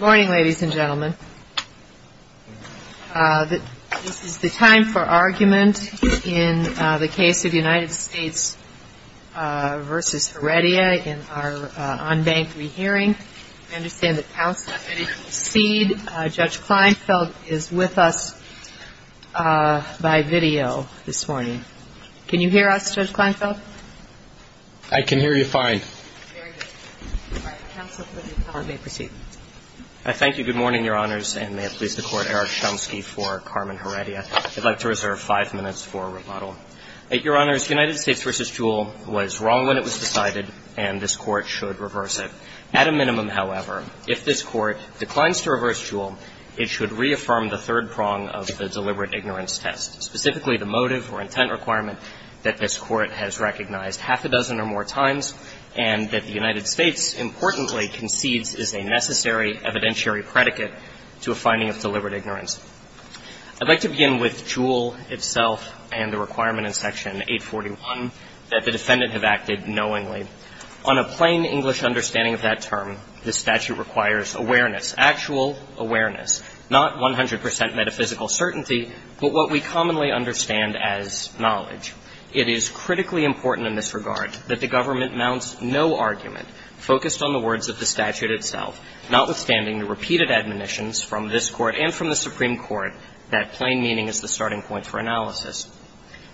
This is the time for argument in the case of United States v. Heredia in our on-bank re-hearing. I understand that counsel has already proceeded. Judge Kleinfeld is with us by video this morning. Can you hear us, Judge Kleinfeld? I can hear you fine. Very good. All right. Counsel, please, you may proceed. I thank you. Good morning, Your Honors, and may it please the Court, Eric Chomsky for Carmen Heredia. I'd like to reserve five minutes for rebuttal. Your Honors, United States v. Jewell was wrong when it was decided, and this Court should reverse it. At a minimum, however, if this Court declines to reverse Jewell, it should reaffirm the third prong of the deliberate ignorance test, specifically the motive or intent requirement that this Court has recognized half a dozen or more times, and that the United States importantly concedes is a necessary evidentiary predicate to a finding of deliberate ignorance. I'd like to begin with Jewell itself and the requirement in Section 841 that the defendant have acted knowingly. On a plain English understanding of that term, the statute requires awareness, actual awareness, not 100 percent metaphysical certainty, but what we commonly understand as knowledge. It is critically important in this regard that the government mounts no argument focused on the words of the statute itself, notwithstanding the repeated admonitions from this Court and from the Supreme Court that plain meaning is the starting point for analysis.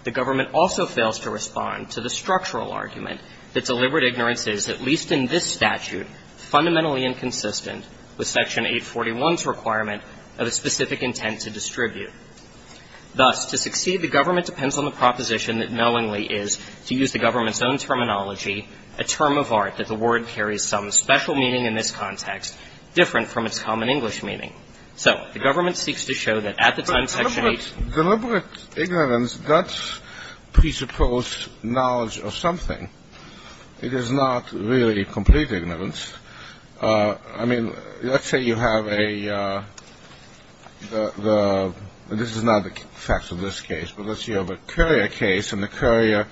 The government also fails to respond to the structural argument that deliberate ignorance is, at least in this statute, fundamentally inconsistent with Section 841's requirement of a specific intent to distribute. Thus, to succeed, the government depends on the proposition that knowingly is, to use the government's own terminology, a term of art that the word carries some special meaning in this context, different from its common English meaning. So the government seeks to show that at the time Section 8 Deliberate ignorance does presuppose knowledge of something. It is not really complete ignorance. I mean, let's say you have a, this is not the facts of this case, but let's say you have a courier case, and the courier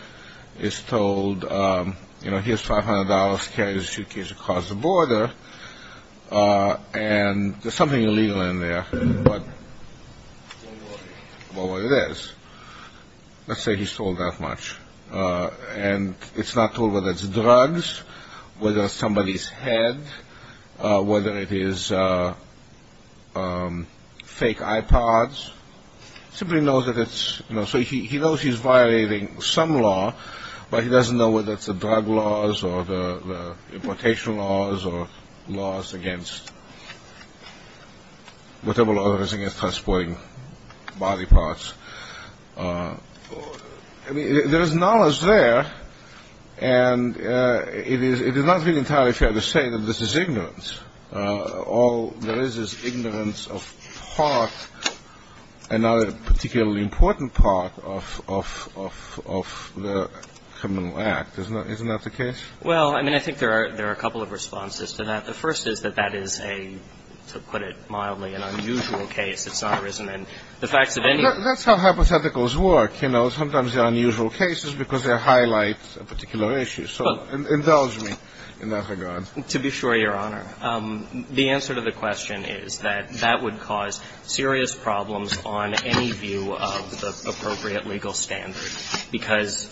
is told, you know, here's $500, carry this suitcase across the border, and there's something illegal in there, but, well, what it is. Let's say he's told that much, and it's not told whether it's drugs, whether it's somebody's head, whether it is fake iPods. Simply knows that it's, you know, so he knows he's violating some law, but he doesn't know whether it's the drug laws, or the importation laws, or laws against, whatever law there is against transporting body parts. I mean, there is knowledge there, and it is not really entirely fair to say that this is ignorance. All there is is ignorance of part, another particularly important part of the criminal act. Isn't that the case? Well, I mean, I think there are a couple of responses to that. The first is that that is a, to put it mildly, an unusual case. That's how hypotheticals work, you know. Sometimes they're unusual cases because they highlight a particular issue, so indulge me in that regard. To be sure, Your Honor, the answer to the question is that that would cause serious problems on any view of the appropriate legal standard, because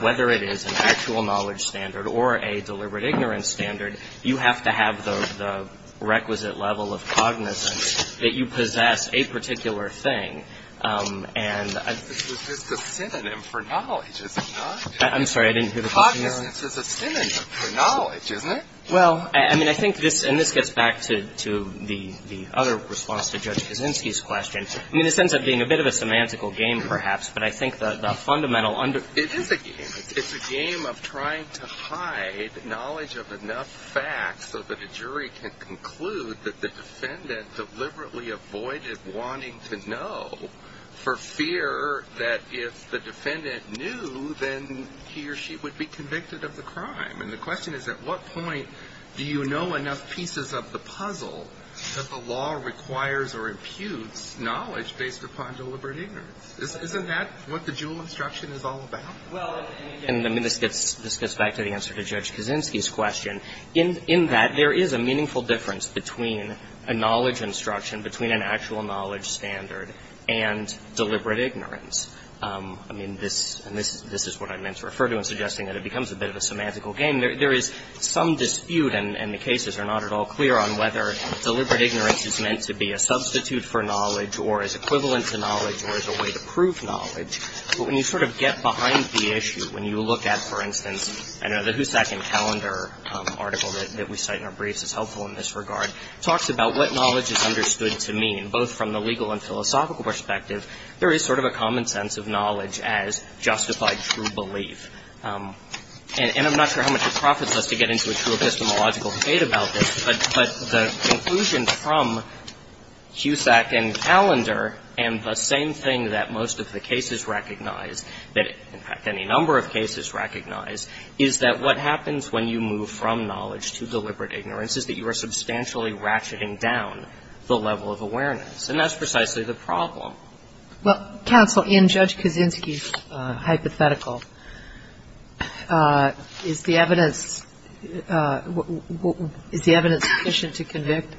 whether it is an actual knowledge standard or a deliberate ignorance standard, you have to have the requisite level of cognizance that you possess a particular thing. This is just a synonym for knowledge, is it not? I'm sorry, I didn't hear the question. Cognizance is a synonym for knowledge, isn't it? Well, I mean, I think this, and this gets back to the other response to Judge Kaczynski's question. I mean, this ends up being a bit of a semantical game, perhaps, but I think the fundamental under- It is a game. It's a game of trying to hide knowledge of enough facts so that a jury can conclude that the defendant deliberately avoided wanting to know for fear that if the defendant knew, then he or she would be convicted of the crime. And the question is, at what point do you know enough pieces of the puzzle that the law requires or imputes knowledge based upon deliberate ignorance? Isn't that what the Juul instruction is all about? Well, and again, this gets back to the answer to Judge Kaczynski's question. In that, there is a meaningful difference between a knowledge instruction, between an actual knowledge standard and deliberate ignorance. I mean, this is what I meant to refer to in suggesting that it becomes a bit of a semantical game. There is some dispute, and the cases are not at all clear, on whether deliberate ignorance is meant to be a substitute for knowledge or is equivalent to knowledge or is a way to prove knowledge. But when you sort of get behind the issue, when you look at, for instance, I know the Hussack and Callender article that we cite in our briefs is helpful in this regard, talks about what knowledge is understood to mean, both from the legal and philosophical perspective. There is sort of a common sense of knowledge as justified true belief. And I'm not sure how much it profits us to get into a true epistemological debate about this, but the conclusion from Hussack and Callender and the same thing that most of the cases recognize, in fact, any number of cases recognize, is that what happens when you move from knowledge to deliberate ignorance is that you are substantially ratcheting down the level of awareness. And that's precisely the problem. Kagan. Well, counsel, in Judge Kaczynski's hypothetical, is the evidence sufficient to convict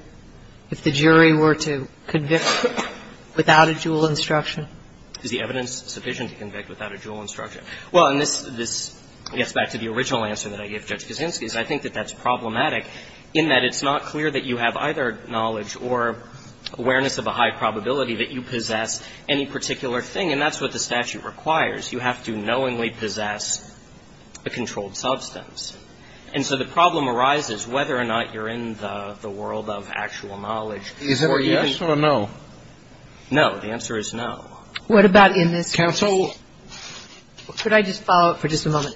if the jury were to convict without a dual instruction? Is the evidence sufficient to convict without a dual instruction? Well, and this gets back to the original answer that I gave Judge Kaczynski. I think that that's problematic in that it's not clear that you have either knowledge or awareness of a high probability that you possess any particular thing, and that's what the statute requires. You have to knowingly possess a controlled substance. And so the problem arises whether or not you're in the world of actual knowledge. Is it a yes or a no? No. The answer is no. What about in this case? Counsel? Could I just follow up for just a moment?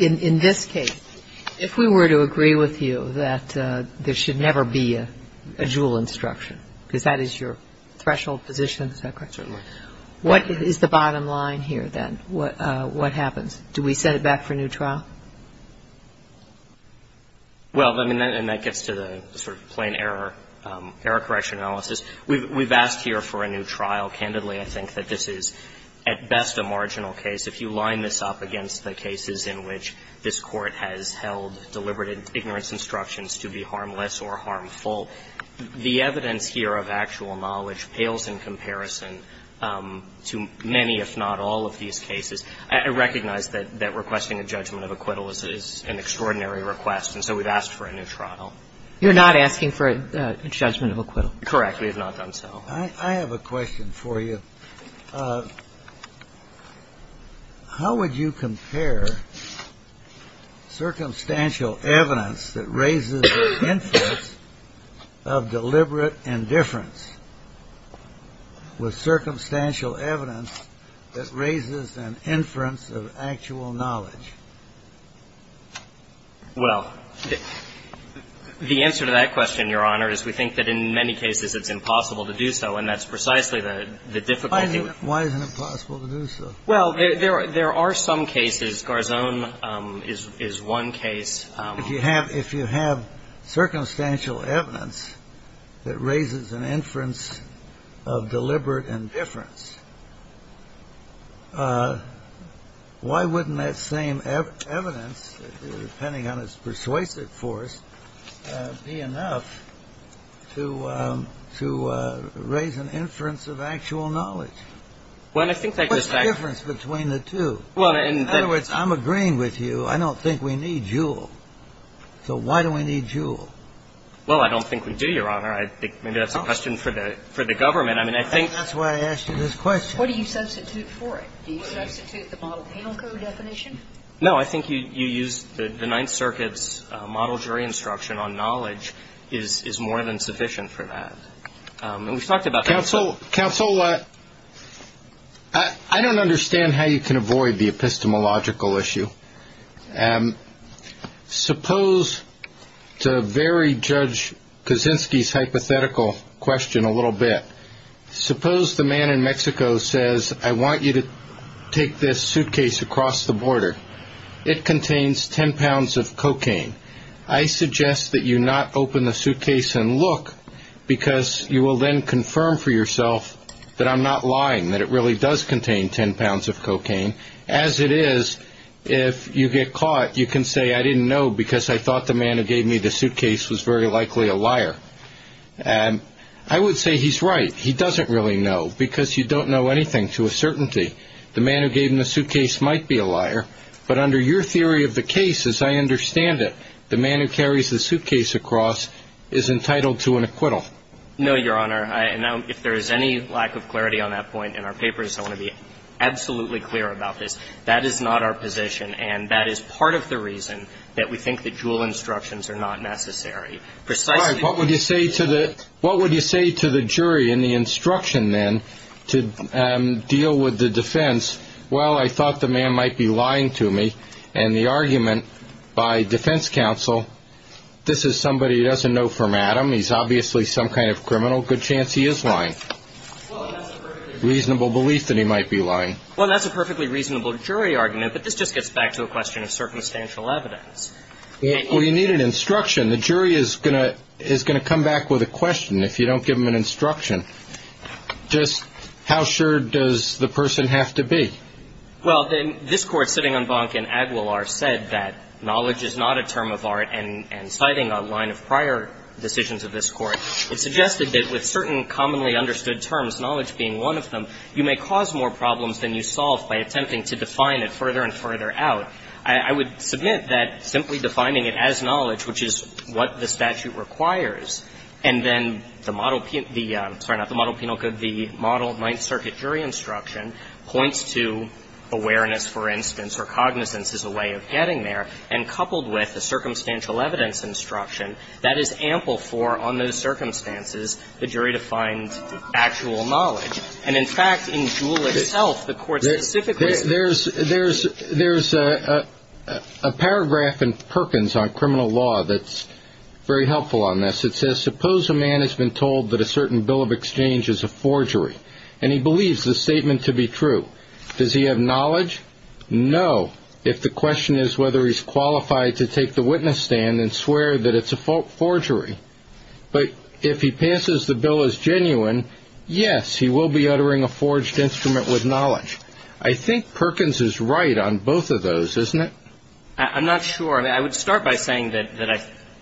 In this case, if we were to agree with you that there should never be a dual instruction, because that is your threshold position, is that correct? Certainly. What is the bottom line here, then? What happens? Do we set it back for a new trial? Well, I mean, and that gets to the sort of plain error, error correction analysis. We've asked here for a new trial. Candidly, I think that this is at best a marginal case. If you line this up against the cases in which this Court has held deliberate ignorance instructions to be harmless or harmful, the evidence here of actual knowledge pales in comparison to many, if not all, of these cases. I recognize that requesting a judgment of acquittal is an extraordinary request, and so we've asked for a new trial. You're not asking for a judgment of acquittal? Correct. We have not done so. I have a question for you. How would you compare circumstantial evidence that raises the inference of deliberate indifference with circumstantial evidence that raises an inference of actual knowledge? Well, the answer to that question, Your Honor, is we think that in many cases it's impossible to do so, and that's precisely the difficulty. Why isn't it possible to do so? Well, there are some cases. Garzone is one case. If you have circumstantial evidence that raises an inference of deliberate indifference, why wouldn't that same evidence, depending on its persuasive force, be enough to raise an inference of actual knowledge? What's the difference between the two? In other words, I'm agreeing with you. I don't think we need Juul. So why do we need Juul? Well, I don't think we do, Your Honor. Maybe that's a question for the government. That's why I asked you this question. What do you substitute for it? Do you substitute the model penal code definition? No, I think you use the Ninth Circuit's model jury instruction on knowledge is more than sufficient for that. And we've talked about that. Counsel, I don't understand how you can avoid the epistemological issue. Suppose, to very judge Kaczynski's hypothetical question a little bit, suppose the man in Mexico says, I want you to take this suitcase across the border. It contains ten pounds of cocaine. I suggest that you not open the suitcase and look because you will then confirm for yourself that I'm not lying, as it is, if you get caught, you can say, I didn't know because I thought the man who gave me the suitcase was very likely a liar. I would say he's right. He doesn't really know because you don't know anything to a certainty. The man who gave him the suitcase might be a liar. But under your theory of the case, as I understand it, the man who carries the suitcase across is entitled to an acquittal. No, Your Honor. And now, if there is any lack of clarity on that point in our papers, I want to be absolutely clear about this. That is not our position. And that is part of the reason that we think the Juul instructions are not necessary. Precisely. All right. What would you say to the jury in the instruction then to deal with the defense? Well, I thought the man might be lying to me. And the argument by defense counsel, this is somebody who doesn't know from Adam. He's obviously some kind of criminal. Good chance he is lying. Well, that's a perfectly reasonable belief that he might be lying. Well, that's a perfectly reasonable jury argument. But this just gets back to a question of circumstantial evidence. Well, you need an instruction. The jury is going to come back with a question if you don't give them an instruction. Just how sure does the person have to be? Well, this Court, sitting on Bonk v. Aguilar, said that knowledge is not a term of art, and citing a line of prior decisions of this Court, it suggested that with certain commonly understood terms, knowledge being one of them, you may cause more problems than you solve by attempting to define it further and further out. I would submit that simply defining it as knowledge, which is what the statute requires, and then the model penal code, the model Ninth Circuit jury instruction points to awareness, for instance, or cognizance as a way of getting there, and coupled with a circumstantial evidence instruction, that is ample for, on those circumstances, the jury to find actual knowledge. And, in fact, in Jewell itself, the Court specifically said that. There's a paragraph in Perkins on criminal law that's very helpful on this. It says, suppose a man has been told that a certain bill of exchange is a forgery, and he believes the statement to be true. Does he have knowledge? No, if the question is whether he's qualified to take the witness stand and swear that it's a forgery. But if he passes the bill as genuine, yes, he will be uttering a forged instrument with knowledge. I think Perkins is right on both of those, isn't it? I'm not sure. I would start by saying that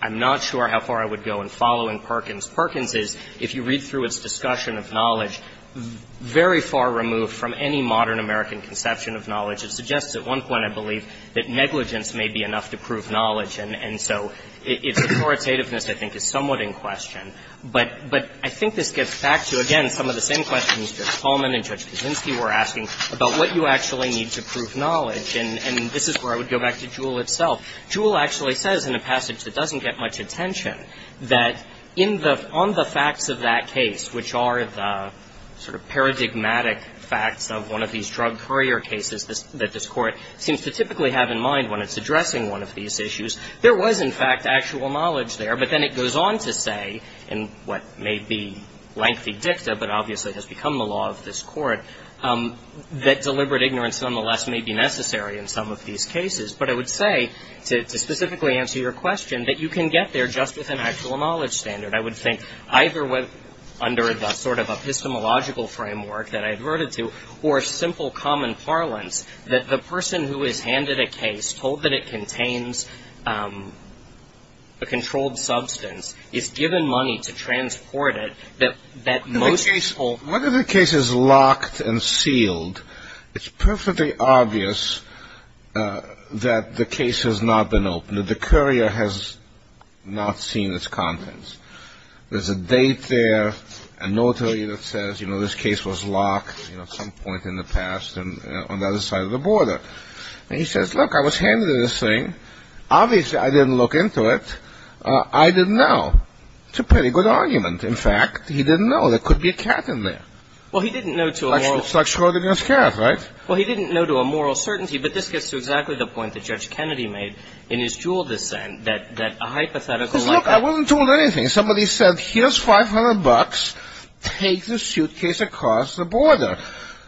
I'm not sure how far I would go in following Perkins. What I would say about James Perkins is, if you read through its discussion of knowledge, very far removed from any modern American conception of knowledge. It suggests at one point, I believe, that negligence may be enough to prove knowledge. And so its authoritativeness, I think, is somewhat in question. But I think this gets back to, again, some of the same questions Judge Coleman and Judge Kuczynski were asking about what you actually need to prove knowledge. And this is where I would go back to Jewell itself. Jewell actually says in a passage that doesn't get much attention that on the facts of that case, which are the sort of paradigmatic facts of one of these drug courier cases that this Court seems to typically have in mind when it's addressing one of these issues, there was, in fact, actual knowledge there. But then it goes on to say in what may be lengthy dicta, but obviously has become the law of this Court, that deliberate ignorance, nonetheless, may be necessary in some of these cases. But I would say, to specifically answer your question, that you can get there just with an actual knowledge standard. I would think either under the sort of epistemological framework that I adverted to or simple common parlance that the person who is handed a case, told that it contains a controlled substance, is given money to transport it, that most people locked and sealed, it's perfectly obvious that the case has not been opened, that the courier has not seen its contents. There's a date there, a notary that says, you know, this case was locked at some point in the past on the other side of the border. And he says, look, I was handed this thing. Obviously, I didn't look into it. I didn't know. It's a pretty good argument. In fact, he didn't know. There could be a cat in there. It's like Schrodinger's cat, right? Well, he didn't know to a moral certainty. But this gets to exactly the point that Judge Kennedy made in his Juul dissent, that a hypothetical lockup. Because, look, I wasn't told anything. Somebody said, here's 500 bucks. Take the suitcase across the border.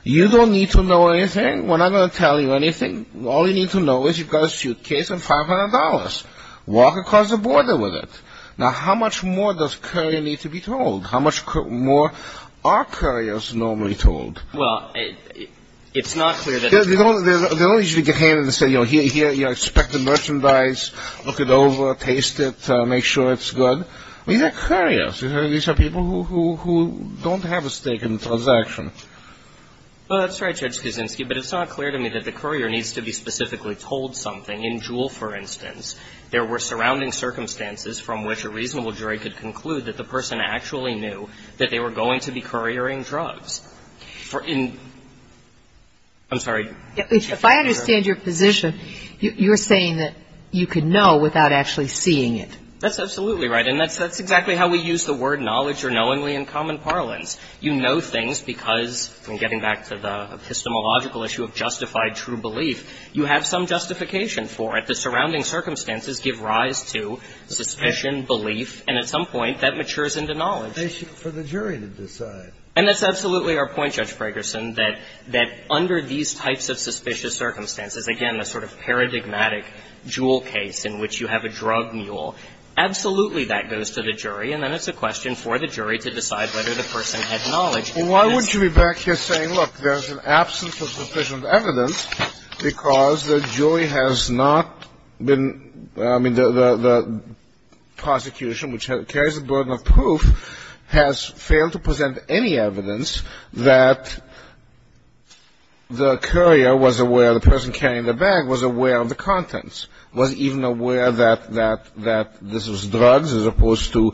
You don't need to know anything. We're not going to tell you anything. All you need to know is you've got a suitcase and $500. Walk across the border with it. Now, how much more does a courier need to be told? How much more are couriers normally told? Well, it's not clear that they're told. They don't usually get handed and say, you know, here, you know, expect the merchandise. Look it over. Taste it. Make sure it's good. These are couriers. These are people who don't have a stake in the transaction. Well, that's right, Judge Kuczynski. But it's not clear to me that the courier needs to be specifically told something. In Juul, for instance, there were surrounding circumstances from which a reasonable jury could conclude that the person actually knew that they were going to be couriering drugs. For in – I'm sorry. If I understand your position, you're saying that you could know without actually seeing it. That's absolutely right. And that's exactly how we use the word knowledge or knowingly in common parlance. You know things because, getting back to the epistemological issue of justified true belief, you have some justification for it. The surrounding circumstances give rise to suspicion, belief, and at some point that matures into knowledge. For the jury to decide. And that's absolutely our point, Judge Fragerson, that under these types of suspicious circumstances, again, a sort of paradigmatic Juul case in which you have a drug mule, absolutely that goes to the jury, and then it's a question for the jury to decide whether the person had knowledge. Well, why would you be back here saying, look, there's an absence of sufficient evidence because the jury has not been – I mean, the prosecution, which carries the burden of proof, has failed to present any evidence that the courier was aware – the person carrying the bag was aware of the contents, was even aware that this was drugs as opposed to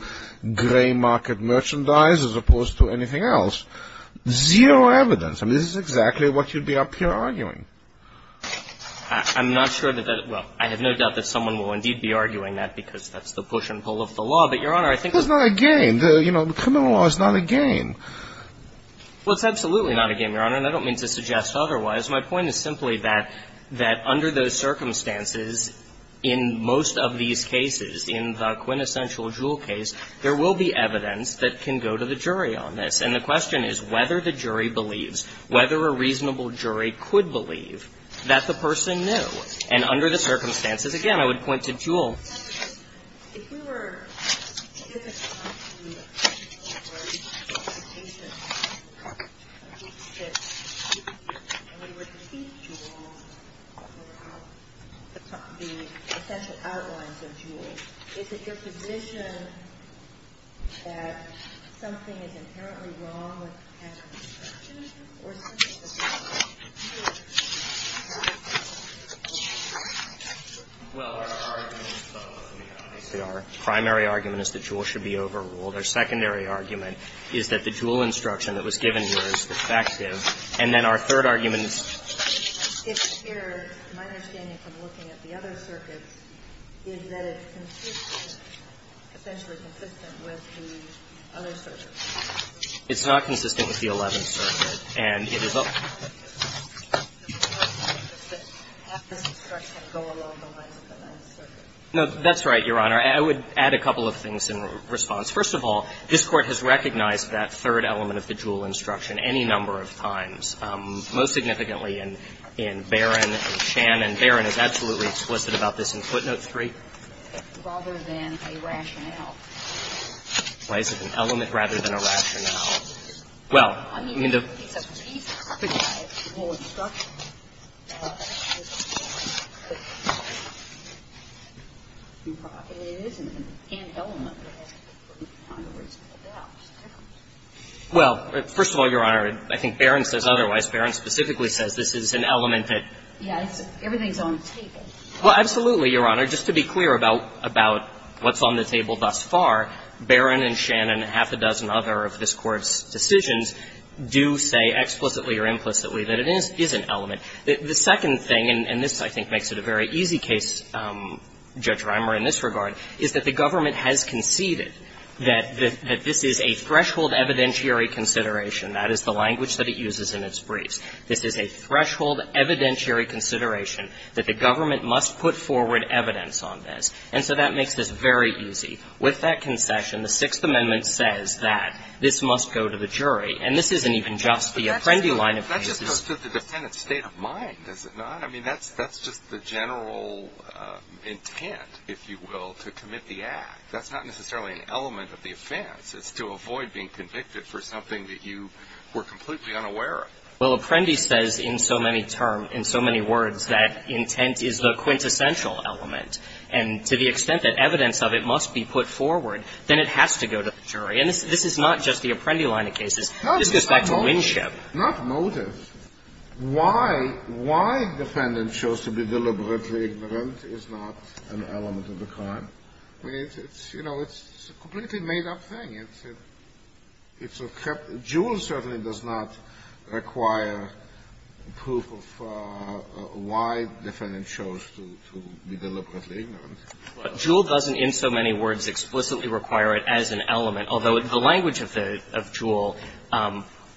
gray market merchandise as opposed to anything else. Zero evidence. I mean, this is exactly what you'd be up here arguing. I'm not sure that that – well, I have no doubt that someone will indeed be arguing that because that's the push and pull of the law. But, Your Honor, I think – It's not a game. You know, criminal law is not a game. Well, it's absolutely not a game, Your Honor, and I don't mean to suggest otherwise. My point is simply that under those circumstances, in most of these cases, in the quintessential Jewell case, there will be evidence that can go to the jury on this. And the question is whether the jury believes, whether a reasonable jury could believe that the person knew. And under the circumstances, again, I would point to Jewell. Senator, if we were given the opportunity to work with a patient and we were to see Jewell, the essential outlines of Jewell, is it your position that something is inherently wrong with the patient's description? Well, our argument is both, Your Honor. Our primary argument is that Jewell should be overruled. Our secondary argument is that the Jewell instruction that was given here is defective. And then our third argument is – It appears, my understanding from looking at the other circuits, is that it's consistent – essentially consistent with the other circuits. It's not consistent with the Eleventh Circuit. And it is a – Half this instruction go along the lines of the Ninth Circuit. No, that's right, Your Honor. I would add a couple of things in response. First of all, this Court has recognized that third element of the Jewell instruction any number of times, most significantly in Barron and Shannon. Barron is absolutely explicit about this in Footnote 3. Rather than a rationale. Why is it an element rather than a rationale? Well, I mean, the – I mean, it's a piece of paper. It's a whole instruction. And it is an element that has to be put on the reasonable doubt. Well, first of all, Your Honor, I think Barron says otherwise. Barron specifically says this is an element that – Yes, everything's on the table. Well, absolutely, Your Honor. Just to be clear about what's on the table thus far, Barron and Shannon and half a dozen other of this Court's decisions do say explicitly or implicitly that it is an element. The second thing, and this I think makes it a very easy case, Judge Reimer, in this regard, is that the government has conceded that this is a threshold evidentiary consideration. That is the language that it uses in its briefs. This is a threshold evidentiary consideration that the government must put forward evidence on this. And so that makes this very easy. With that concession, the Sixth Amendment says that this must go to the jury. And this isn't even just the Apprendi line of business. But that's just the defendant's state of mind, is it not? I mean, that's just the general intent, if you will, to commit the act. That's not necessarily an element of the offense. It's to avoid being convicted for something that you were completely unaware of. Well, Apprendi says in so many terms, in so many words, that intent is the quintessential element, and to the extent that evidence of it must be put forward, then it has to go to the jury. And this is not just the Apprendi line of cases. This goes back to Winship. Not motive. Why the defendant chose to be deliberately ignorant is not an element of the crime. I mean, it's, you know, it's a completely made-up thing. It's a kept – Juul certainly does not require proof of why the defendant chose to be deliberately ignorant. Well, Juul doesn't in so many words explicitly require it as an element, although the language of Juul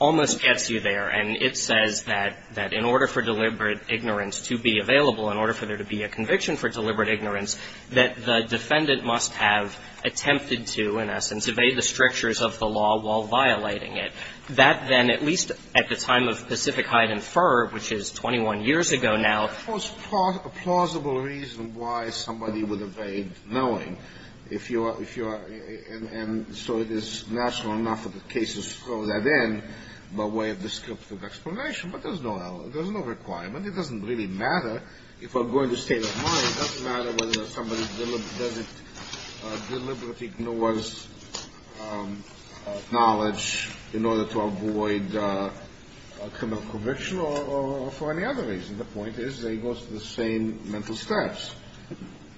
almost gets you there. And it says that in order for deliberate ignorance to be available, in order for there to be a conviction for deliberate ignorance, that the defendant must have attempted to, in essence, evade the strictures of the law while violating it. That then, at least at the time of Pacific Height and Fur, which is 21 years ago now. It was part of a plausible reason why somebody would evade knowing if you are – if you are – and so it is natural enough that the cases throw that in by way of descriptive explanation. But there's no – there's no requirement. It doesn't really matter. If I'm going to state of mind, it doesn't matter whether somebody deliberately ignores knowledge in order to avoid a criminal conviction or for any other reason. The point is they go through the same mental steps.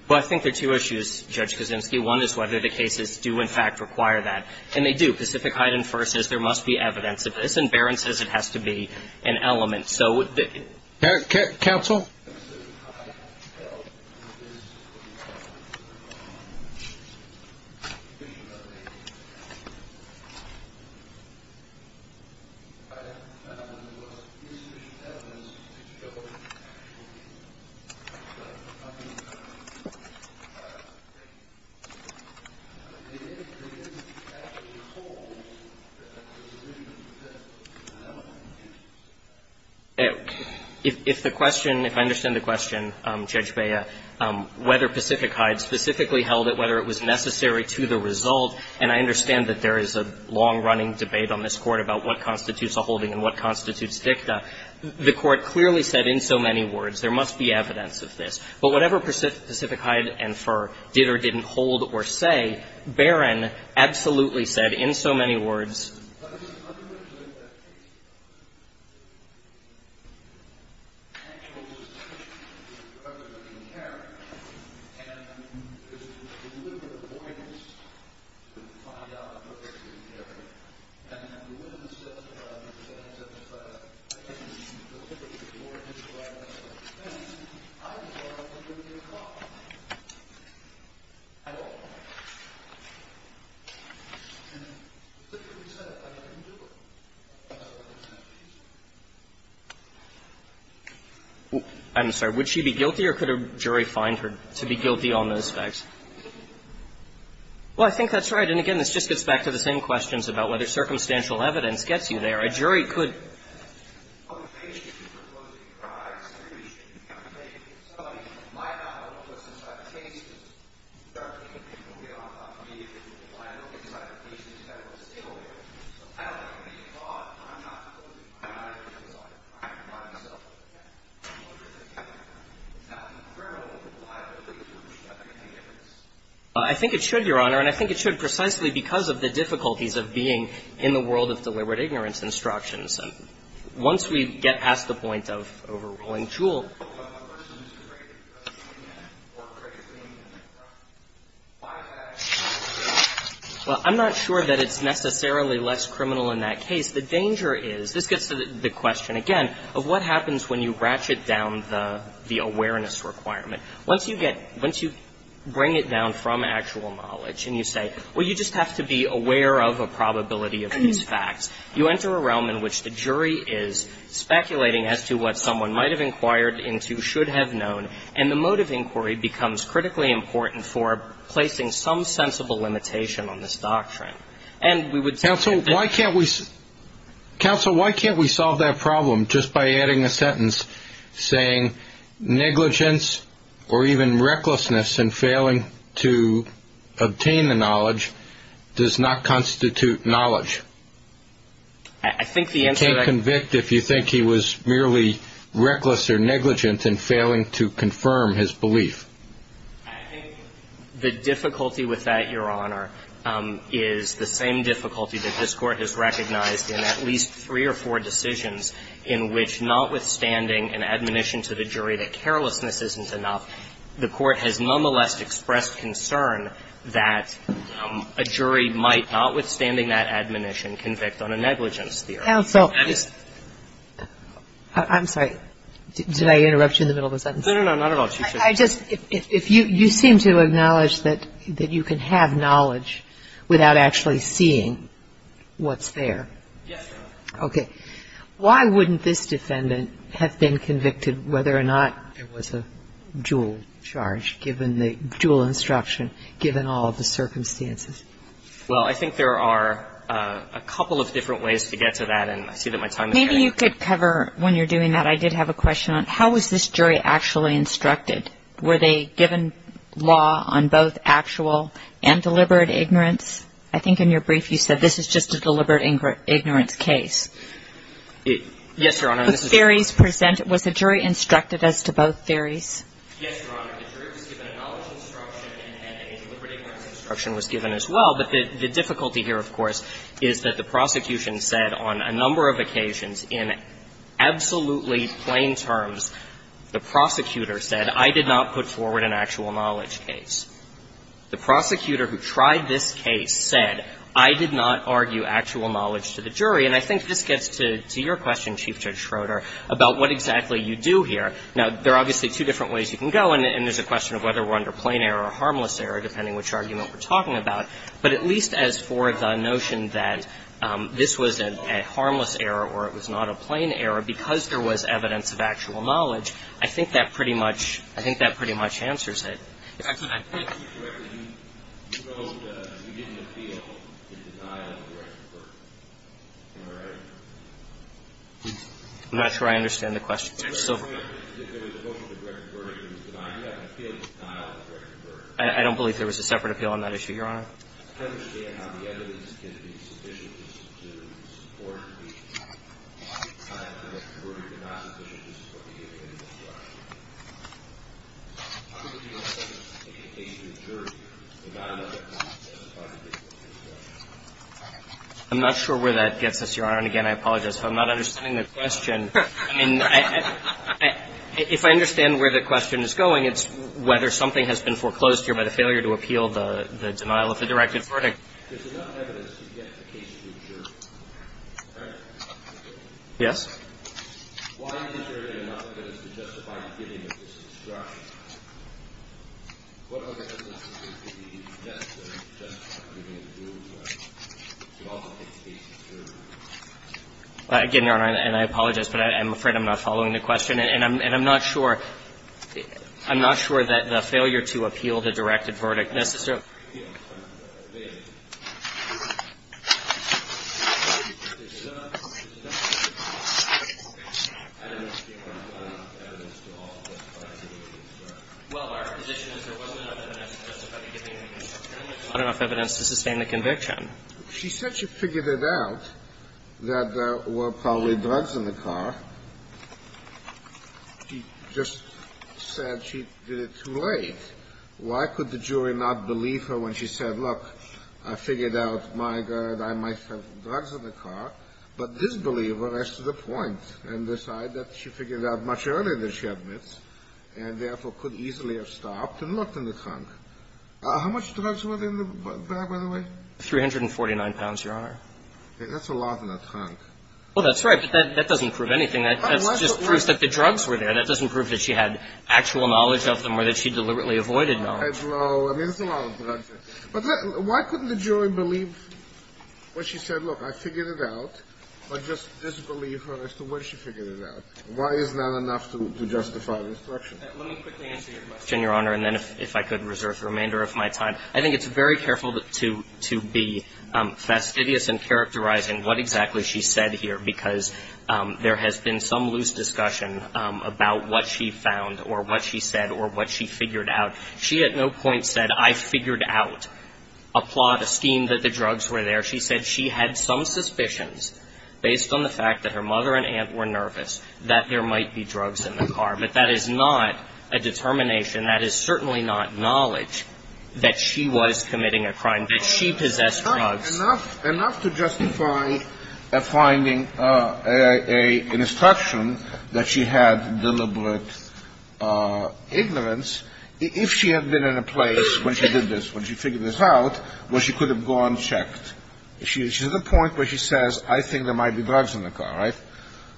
Well, I think there are two issues, Judge Kaczynski. One is whether the cases do in fact require that. And they do. Pacific Height and Fur says there must be evidence of this, and Barron says it has to be an element. And so would Vickie. Counsel? I have found the most insufficient evidence to show that actually. But I mean, I think the evidence has to be told that there's an element to it. If the question – if I understand the question, Judge Bea, whether Pacific Height specifically held it, whether it was necessary to the result, and I understand that there is a long-running debate on this Court about what constitutes a holding and what constitutes dicta, the Court clearly said in so many words there must be evidence of this. But whatever Pacific Height and Fur did or didn't hold or say, Barron absolutely said in so many words. I'm going to play that case. The actual decision is whether to carry. And there's a deliberate avoidance to find out whether to carry. And the witness testified in the defense of a case specifically for his right to defend. I as well, I don't think there's a problem. At all. I'm sorry. Would she be guilty or could a jury find her to be guilty on those facts? Well, I think that's right. And again, this just gets back to the same questions about whether circumstantial evidence gets you there. A jury could. I think it should, Your Honor. And I think it should precisely because of the difficulties of being in the world of deliberate ignorance instructions. Once we get past the point of overruling Juul. Well, I'm not sure that it's necessarily less criminal in that case. The danger is, this gets to the question again of what happens when you ratchet down the awareness requirement. Once you get, once you bring it down from actual knowledge and you say, well, you just have to be aware of a probability of these facts. You enter a realm in which the jury is speculating as to what someone might have inquired into, should have known. And the mode of inquiry becomes critically important for placing some sensible limitation on this doctrine. And we would say. Counsel, why can't we solve that problem just by adding a sentence saying negligence or even recklessness in failing to obtain the knowledge does not constitute knowledge? I think the answer. You can't convict if you think he was merely reckless or negligent in failing to confirm his belief. I think the difficulty with that, Your Honor, is the same difficulty that this Court has recognized in at least three or four decisions in which notwithstanding an admonition to the jury that carelessness isn't enough, the Court has nonetheless expressed concern that a jury might, notwithstanding that admonition, convict on a negligence theory. Counsel, I'm sorry. Did I interrupt you in the middle of a sentence? No, no, not at all. I just, if you seem to acknowledge that you can have knowledge without actually seeing what's there. Yes, Your Honor. Okay. Why wouldn't this defendant have been convicted whether or not it was a dual charge given the dual instruction given all of the circumstances? Well, I think there are a couple of different ways to get to that, and I see that my time is running out. Maybe you could cover when you're doing that. I did have a question on how was this jury actually instructed? Were they given law on both actual and deliberate ignorance? I think in your brief you said this is just a deliberate ignorance case. Yes, Your Honor. Was the jury instructed as to both theories? Yes, Your Honor. The jury was given a knowledge instruction and a deliberate ignorance instruction was given as well. But the difficulty here, of course, is that the prosecution said on a number of occasions in absolutely plain terms, the prosecutor said, I did not put forward an actual knowledge case. And I think this gets to your question, Chief Judge Schroeder, about what exactly you do here. Now, there are obviously two different ways you can go, and there's a question of whether we're under plain error or harmless error, depending which argument we're talking about. But at least as for the notion that this was a harmless error or it was not a plain error because there was evidence of actual knowledge, I think that pretty much answers it. I'm not sure I understand the question. I don't believe there was a separate appeal on that issue, Your Honor. I'm not sure where that gets us, Your Honor, and, again, I apologize if I'm not understanding the question. I mean, if I understand where the question is going, it's whether something has been foreclosed here by the failure to appeal the denial of fiduciary directed verdict. Yes? Again, Your Honor, and I apologize, but I'm afraid I'm not following the question. And I'm not sure, I'm not sure that the failure to appeal the directed verdict necessarily gives us enough evidence to sustain the conviction. She said she figured it out that there were probably drugs in the car. She just said she did it too late. Why could the jury not believe her when she said, look, I figured out, my God, I might have drugs in the car, but this believer has to the point and decide that she figured out much earlier than she admits and therefore could easily have stopped and looked in the trunk. How much drugs were there in the bag, by the way? 349 pounds, Your Honor. That's a lot in the trunk. Well, that's right. But that doesn't prove anything. That just proves that the drugs were there. That doesn't prove that she had actual knowledge of them or that she deliberately avoided them. No. I mean, it's a lot of drugs. But why couldn't the jury believe when she said, look, I figured it out, but just disbelieve her as to when she figured it out? Why is that enough to justify the instruction? Let me quickly answer your question, Your Honor, and then if I could reserve the remainder of my time. I think it's very careful to be fastidious in characterizing what exactly she said here, because there has been some loose discussion about what she found or what she said or what she figured out. She at no point said, I figured out a plot, a scheme that the drugs were there. She said she had some suspicions based on the fact that her mother and aunt were nervous that there might be drugs in the car. But that is not a determination. That is certainly not knowledge that she was committing a crime, that she possessed drugs. Enough to justify a finding, an instruction that she had deliberate ignorance if she had been in a place when she did this, when she figured this out, where she could have gone and checked. She's at a point where she says, I think there might be drugs in the car, right?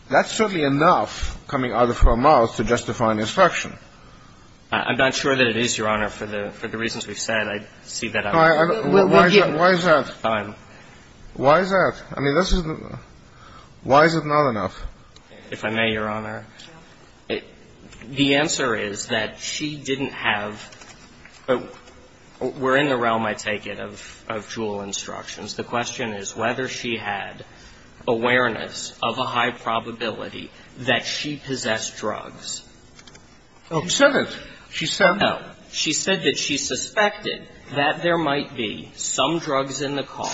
That's certainly enough coming out of her mouth to justify an instruction. I'm not sure that it is, Your Honor. For the reasons we've said, I see that. Why is that? Why is that? I mean, why is it not enough? If I may, Your Honor. The answer is that she didn't have, we're in the realm, I take it, of dual instructions. The question is whether she had awareness of a high probability that she possessed drugs. She said it. She said it. No. She said that she suspected that there might be some drugs in the car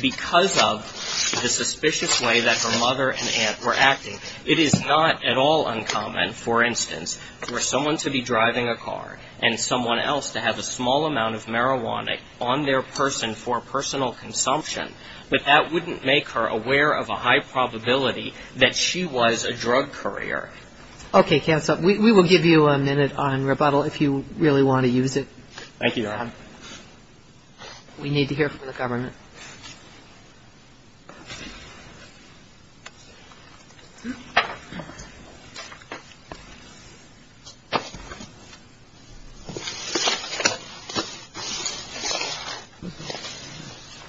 because of the suspicious way that her mother and aunt were acting. It is not at all uncommon, for instance, for someone to be driving a car and someone else to have a small amount of marijuana on their person for personal consumption. But that wouldn't make her aware of a high probability that she was a drug courier. Okay, counsel. We will give you a minute on rebuttal if you really want to use it. Thank you, Your Honor. We need to hear from the government.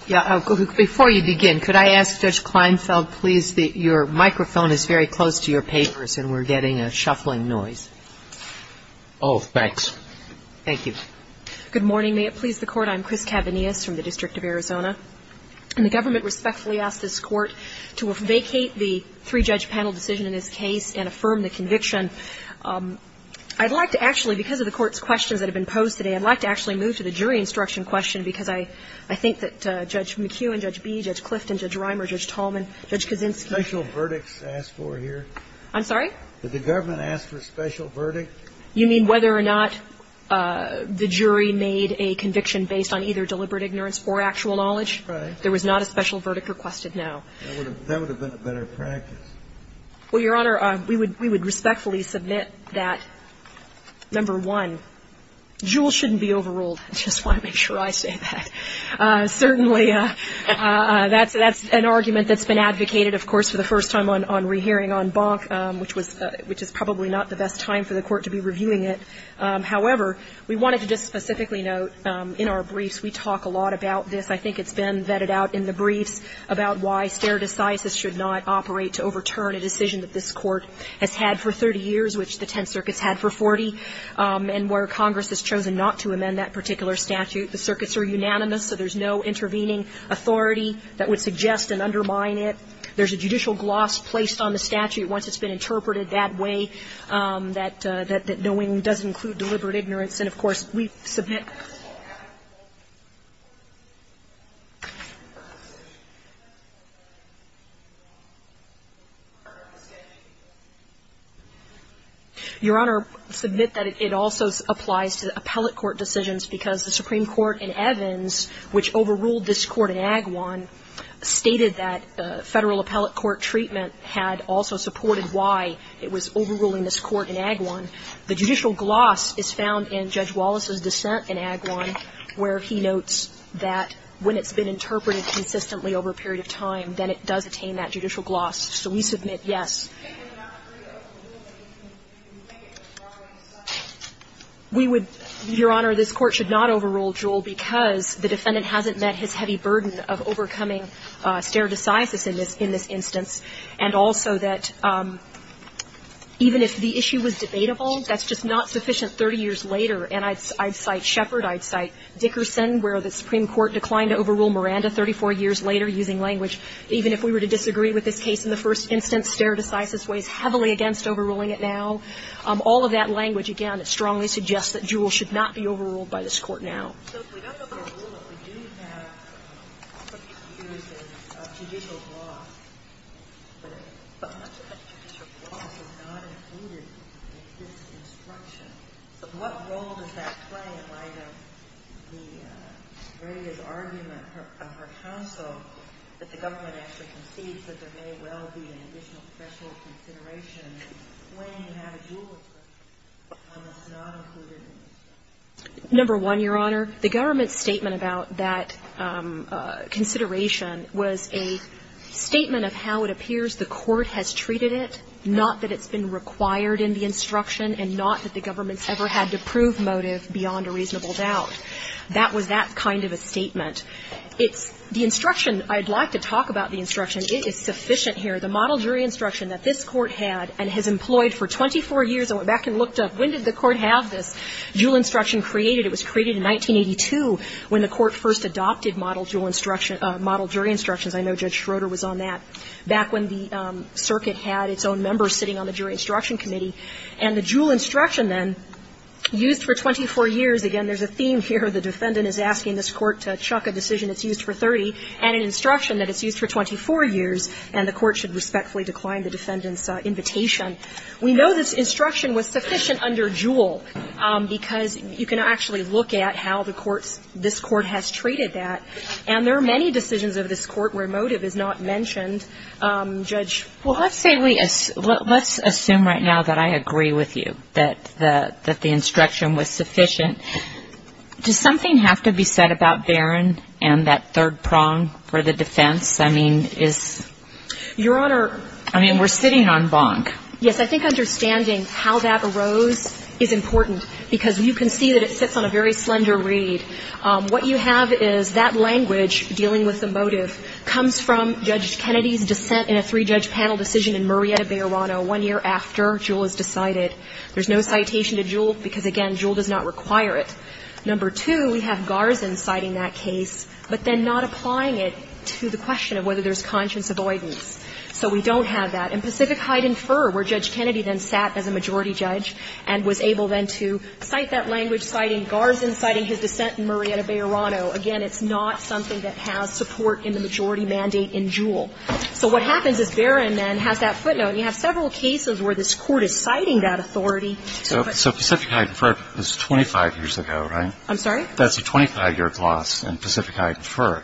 Before you begin, could I ask Judge Kleinfeld, please, your microphone is very close to your papers, and we're getting a shuffling noise. Oh, thanks. Thank you. Good morning. May it please the Court. I'm Chris Cavanius from the District of Arizona. And the government respectfully asks this Court to vacate the three-judge panel decision in this case and affirm the conviction. I'd like to actually, because of the Court's questions that have been posed, I'd like to actually move to the jury instruction question because I think that Judge McKeown, Judge Bee, Judge Clifton, Judge Reimer, Judge Tallman, Judge Kaczynski. Special verdicts asked for here? I'm sorry? Did the government ask for a special verdict? You mean whether or not the jury made a conviction based on either deliberate ignorance or actual knowledge? Right. There was not a special verdict requested now. That would have been a better practice. Well, Your Honor, we would respectfully submit that, number one, Juul shouldn't be overruled. I just want to make sure I say that. Certainly, that's an argument that's been advocated, of course, for the first time on rehearing on Bonk, which is probably not the best time for the Court to be reviewing it. However, we wanted to just specifically note in our briefs we talk a lot about this. I think it's been vetted out in the briefs about why stare decisis should not operate to overturn a decision that this Court has had for 30 years, which the Tenth Circuit's had for 40, and where Congress has chosen not to amend that particular statute. The circuits are unanimous, so there's no intervening authority that would suggest and undermine it. There's a judicial gloss placed on the statute once it's been interpreted that way, that knowing does include deliberate ignorance. And, of course, we submit that. Your Honor, I submit that it also applies to appellate court decisions because the Supreme Court in Evans, which overruled this Court in Agawam, stated that Federal appellate court treatment had also supported why it was overruling this Court in Agawam. The judicial gloss is found in Judge Wallace's dissent in Agawam, where he notes that when it's been interpreted consistently over a period of time, then it does attain that judicial gloss. So we submit yes. We would, Your Honor, this Court should not overrule Jewell because the defendant hasn't met his heavy burden of overcoming stare decisis in this instance, and also that even if the issue was debatable, that's just not sufficient 30 years later. And I'd cite Sheppard. I'd cite Dickerson, where the Supreme Court declined to overrule Miranda 34 years later using language, even if we were to disagree with this case in the first instance, stare decisis weighs heavily against overruling it now. All of that language, again, strongly suggests that Jewell should not be overruled by this Court now. So if we don't overrule it, we do have some excuses of judicial gloss. But much of that judicial gloss is not included in this instruction. So what role does that play in light of the various arguments of her counsel that the government actually concedes that there may well be an additional special consideration when you have a Jewell expression that's not included? Number one, Your Honor, the government's statement about that consideration was a statement of how it appears the court has treated it, not that it's been required in the instruction and not that the government's ever had to prove motive beyond a reasonable doubt. That was that kind of a statement. It's the instruction. I'd like to talk about the instruction. It is sufficient here. Jewell instruction created, it was created in 1982 when the Court first adopted model Jewell instruction, model jury instructions. I know Judge Schroeder was on that, back when the circuit had its own members sitting on the jury instruction committee. And the Jewell instruction, then, used for 24 years. Again, there's a theme here. The defendant is asking this Court to chuck a decision that's used for 30 and an instruction that it's used for 24 years, and the Court should respectfully decline the defendant's invitation. We know this instruction was sufficient under Jewell, because you can actually look at how the Court's, this Court has treated that. And there are many decisions of this Court where motive is not mentioned. Judge? Well, let's say we, let's assume right now that I agree with you, that the instruction was sufficient. Does something have to be said about Barron and that third prong for the defense? I mean, is? Your Honor. I mean, we're sitting on Bonk. Yes. I think understanding how that arose is important, because you can see that it sits on a very slender read. What you have is that language, dealing with the motive, comes from Judge Kennedy's dissent in a three-judge panel decision in Murrieta-Bayorano one year after Jewell was decided. There's no citation to Jewell, because, again, Jewell does not require it. Number two, we have Garzan citing that case, but then not applying it to the question of whether there's conscience avoidance. So we don't have that. In Pacific Height and Fur, where Judge Kennedy then sat as a majority judge and was able then to cite that language, citing Garzan, citing his dissent in Murrieta-Bayorano, again, it's not something that has support in the majority mandate in Jewell. So what happens is Barron then has that footnote, and you have several cases where this Court is citing that authority. So Pacific Height and Fur is 25 years ago, right? I'm sorry? That's a 25-year clause in Pacific Height and Fur,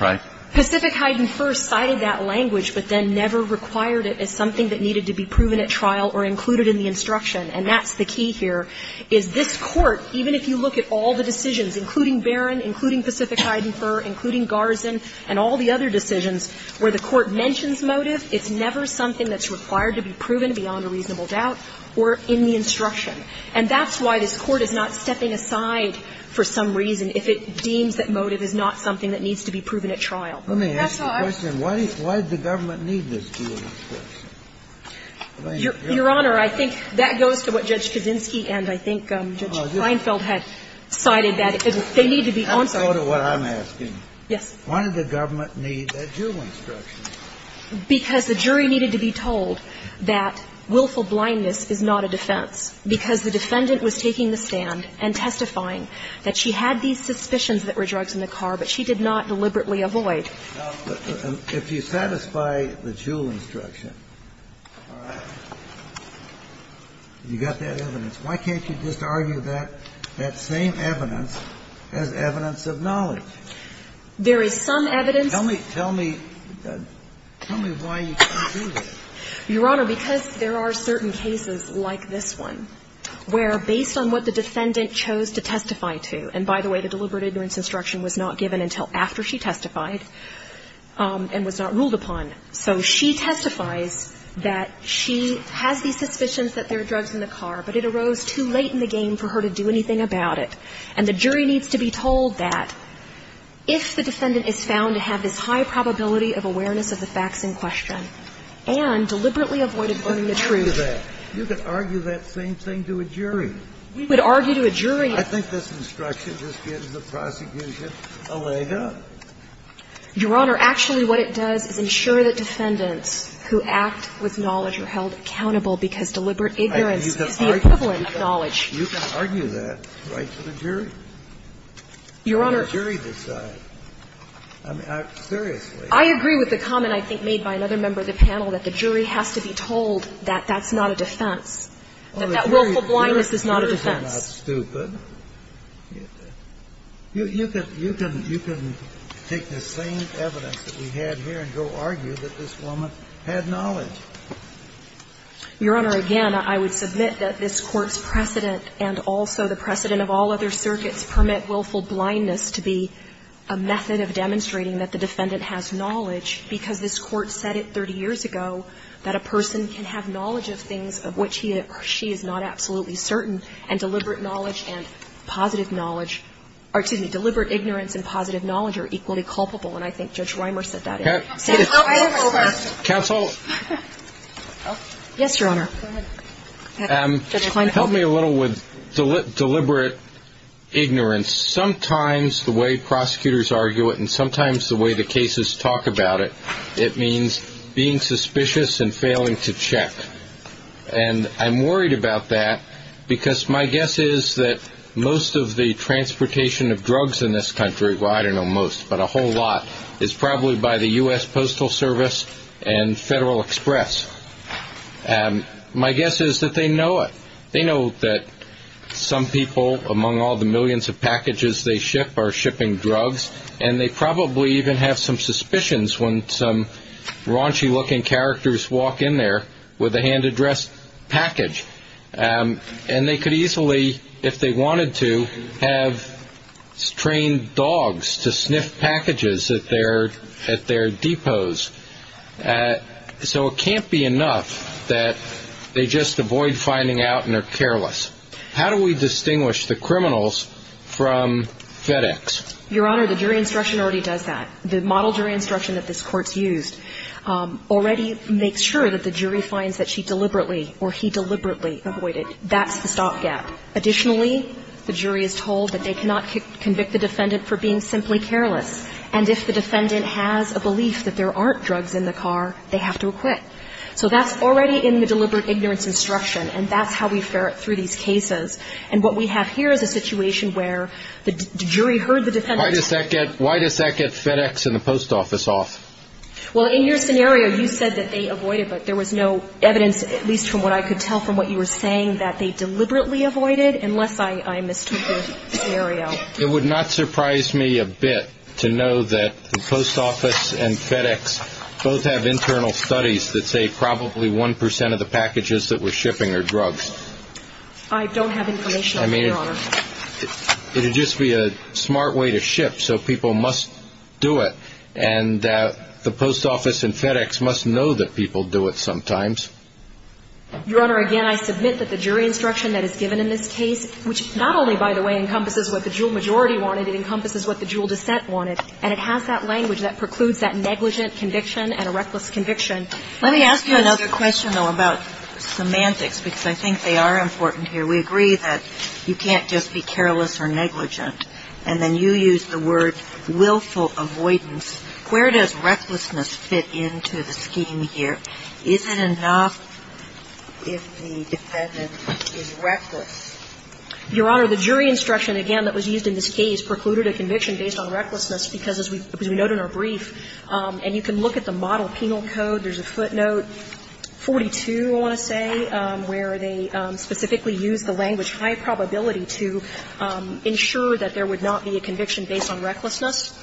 right? So Pacific Height and Fur cited that language, but then never required it as something that needed to be proven at trial or included in the instruction. And that's the key here, is this Court, even if you look at all the decisions, including Barron, including Pacific Height and Fur, including Garzan, and all the other decisions, where the Court mentions motive, it's never something that's required to be proven beyond a reasonable doubt or in the instruction. And that's why this Court is not stepping aside for some reason if it deems that it's not something that needs to be proven at trial. Let me ask you a question. Why did the government need this Jewell instruction? Your Honor, I think that goes to what Judge Kaczynski and I think Judge Reinfeld had cited, that they need to be on site. Answer what I'm asking. Yes. Why did the government need that Jewell instruction? Because the jury needed to be told that willful blindness is not a defense, because the defendant was taking the stand and testifying that she had these suspicions that were drugs in the car, but she did not deliberately avoid. Now, if you satisfy the Jewell instruction, all right, you got that evidence. Why can't you just argue that same evidence as evidence of knowledge? There is some evidence. Tell me why you can't do that. Your Honor, because there are certain cases like this one where, based on what the defendant has testified, that this instruction was not given until after she testified and was not ruled upon. So she testifies that she has these suspicions that there are drugs in the car, but it arose too late in the game for her to do anything about it. And the jury needs to be told that if the defendant is found to have this high probability of awareness of the facts in question and deliberately avoided going to truth. You can argue that. You can argue that same thing to a jury. We would argue to a jury. I think this instruction just gives the prosecution a leg up. Your Honor, actually what it does is ensure that defendants who act with knowledge are held accountable, because deliberate ignorance is the equivalent of knowledge. You can argue that right to the jury. Your Honor. Let the jury decide. I mean, seriously. I agree with the comment I think made by another member of the panel that the jury has to be told that that's not a defense. That that willful blindness is not a defense. You're not stupid. You can take the same evidence that we have here and go argue that this woman had knowledge. Your Honor, again, I would submit that this Court's precedent and also the precedent of all other circuits permit willful blindness to be a method of demonstrating that the defendant has knowledge, because this Court said it 30 years ago, that a person can have knowledge of things of which he or she is not absolutely certain, and deliberate knowledge and positive knowledge or, excuse me, deliberate ignorance and positive knowledge are equally culpable. And I think Judge Reimer said that. Counsel? Yes, Your Honor. Help me a little with deliberate ignorance. Sometimes the way prosecutors argue it and sometimes the way the cases talk about it, it means being suspicious and failing to check. And I'm worried about that, because my guess is that most of the transportation of drugs in this country, well, I don't know most, but a whole lot, is probably by the U.S. Postal Service and Federal Express. My guess is that they know it. They know that some people, among all the millions of packages they ship, are and some raunchy-looking characters walk in there with a hand-addressed package. And they could easily, if they wanted to, have trained dogs to sniff packages at their depots. So it can't be enough that they just avoid finding out and are careless. How do we distinguish the criminals from FedEx? Your Honor, the jury instruction already does that. The model jury instruction that this Court's used already makes sure that the jury finds that she deliberately or he deliberately avoided. That's the stopgap. Additionally, the jury is told that they cannot convict the defendant for being simply careless. And if the defendant has a belief that there aren't drugs in the car, they have to acquit. So that's already in the deliberate ignorance instruction, and that's how we ferret through these cases. And what we have here is a situation where the jury heard the defendant's Why does that get FedEx and the Post Office off? Well, in your scenario, you said that they avoided, but there was no evidence, at least from what I could tell from what you were saying, that they deliberately avoided, unless I mistook the scenario. It would not surprise me a bit to know that the Post Office and FedEx both have internal studies that say probably 1 percent of the packages that we're shipping I don't have information on that, Your Honor. It would just be a smart way to ship, so people must do it. And the Post Office and FedEx must know that people do it sometimes. Your Honor, again, I submit that the jury instruction that is given in this case, which not only, by the way, encompasses what the jewel majority wanted, it encompasses what the jewel dissent wanted. And it has that language that precludes that negligent conviction and a reckless conviction. Let me ask you another question, though, about semantics, because I think they are important here. We agree that you can't just be careless or negligent, and then you use the word willful avoidance. Where does recklessness fit into the scheme here? Is it enough if the defendant is reckless? Your Honor, the jury instruction, again, that was used in this case precluded a conviction based on recklessness, because as we note in our brief, and you can look at the model penal code, there's a footnote 42, I want to say, where they specifically use the language high probability to ensure that there would not be a conviction based on recklessness.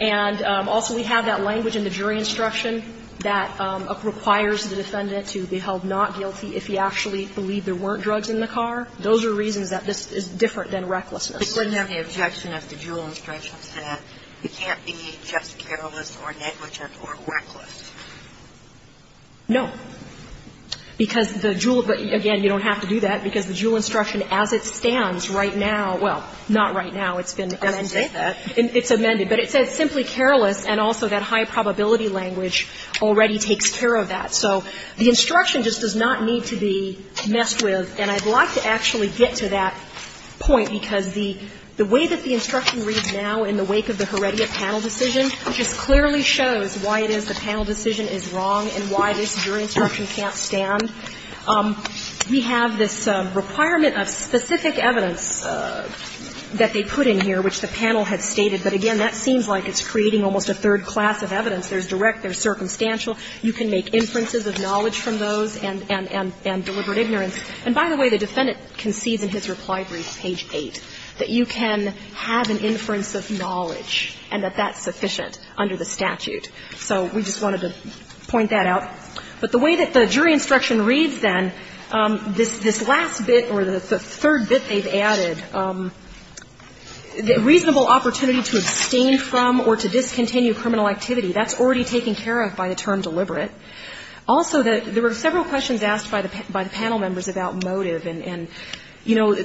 And also, we have that language in the jury instruction that requires the defendant to be held not guilty if he actually believed there weren't drugs in the car. Those are reasons that this is different than recklessness. But you wouldn't have the objection if the jewel instruction said you can't be just careless or negligent or reckless. No. Because the jewel, again, you don't have to do that, because the jewel instruction as it stands right now, well, not right now, it's been amended. It's amended. But it says simply careless, and also that high probability language already takes care of that. So the instruction just does not need to be messed with. And I'd like to actually get to that point, because the way that the instruction reads now in the wake of the Heredia panel decision just clearly shows why it is the instruction can't stand. We have this requirement of specific evidence that they put in here, which the panel has stated. But again, that seems like it's creating almost a third class of evidence. There's direct, there's circumstantial. You can make inferences of knowledge from those and deliberate ignorance. And by the way, the defendant concedes in his reply brief, page 8, that you can have an inference of knowledge and that that's sufficient under the statute. So we just wanted to point that out. But the way that the jury instruction reads then, this last bit or the third bit they've added, reasonable opportunity to abstain from or to discontinue criminal activity, that's already taken care of by the term deliberate. Also, there were several questions asked by the panel members about motive. And, you know,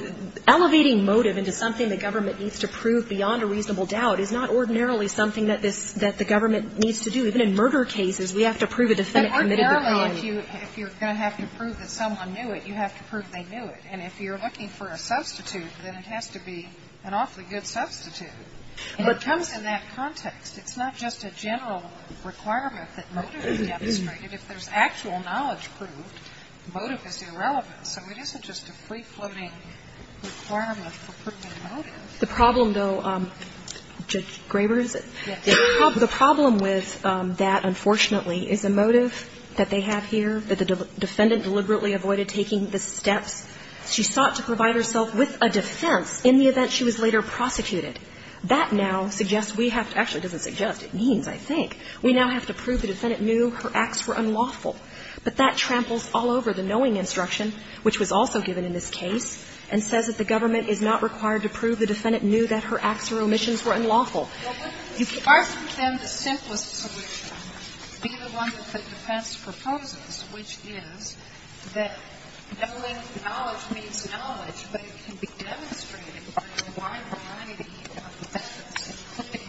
elevating motive into something the government needs to prove beyond a reasonable doubt is not ordinarily something that the government needs to do. Even in murder cases, we have to prove a defendant committed the crime. If you're going to have to prove that someone knew it, you have to prove they knew it. And if you're looking for a substitute, then it has to be an awfully good substitute. And it comes in that context. It's not just a general requirement that motive is demonstrated. If there's actual knowledge proved, motive is irrelevant. So it isn't just a free-floating requirement for proving motive. The problem, though, Judge Graber, is it? The problem with that, unfortunately, is the motive that they have here, that the defendant deliberately avoided taking the steps. She sought to provide herself with a defense in the event she was later prosecuted. That now suggests we have to – actually, it doesn't suggest. It means, I think. We now have to prove the defendant knew her acts were unlawful. But that tramples all over the knowing instruction, which was also given in this case and says that the government is not required to prove the defendant knew that her acts or omissions were unlawful. If you ask them the simplest solution, be the one that the defense proposes, which is that knowing knowledge means knowledge, but it can be demonstrated by a wide variety of evidence including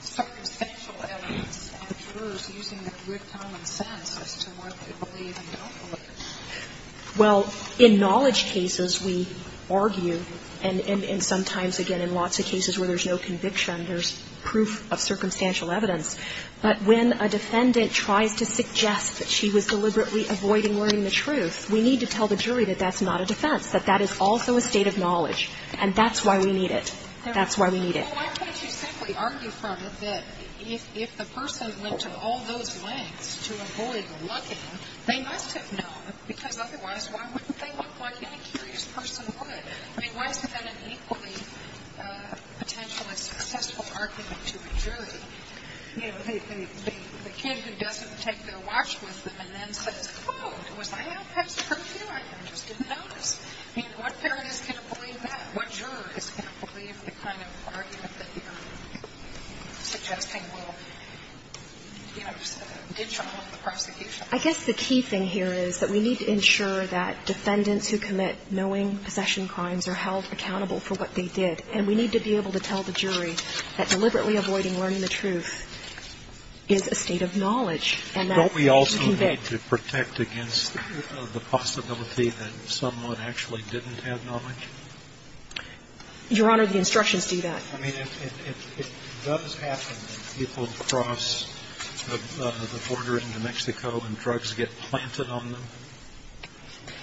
circumstantial evidence and the jurors using their good common sense as to what they believe and don't believe. Well, in knowledge cases, we argue, and sometimes, again, in lots of cases where there's no conviction, there's proof of circumstantial evidence. But when a defendant tries to suggest that she was deliberately avoiding learning the truth, we need to tell the jury that that's not a defense, that that is also a state of knowledge, and that's why we need it. That's why we need it. Well, why can't you simply argue from it that if the person went to all those lengths to avoid looking, they must have known, because otherwise, why wouldn't they look like any curious person would? I mean, why is that an equally potentially successful argument to a jury? You know, the kid who doesn't take their watch with them and then says, oh, it was my outpast perfume. I just didn't notice. I mean, what parent is going to believe that? What juror is going to believe the kind of argument that you're suggesting will, you know, detriment the prosecution? I guess the key thing here is that we need to ensure that defendants who commit knowing possession crimes are held accountable for what they did, and we need to be able to tell the jury that deliberately avoiding learning the truth is a state of knowledge and that's why we convict. Don't we also need to protect against the possibility that someone actually didn't have knowledge? Your Honor, the instructions do that. I mean, if it does happen that people cross the border into Mexico and drugs get planted on them?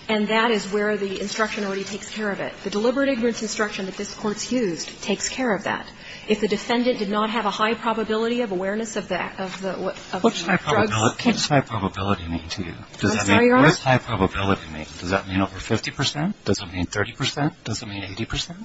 And that is where the instruction already takes care of it. The deliberate ignorance instruction that this Court's used takes care of that. If the defendant did not have a high probability of awareness of the act of the drugs What does high probability mean to you? I'm sorry, Your Honor? What does high probability mean? Does that mean over 50 percent? Does it mean 30 percent? Does it mean 80 percent?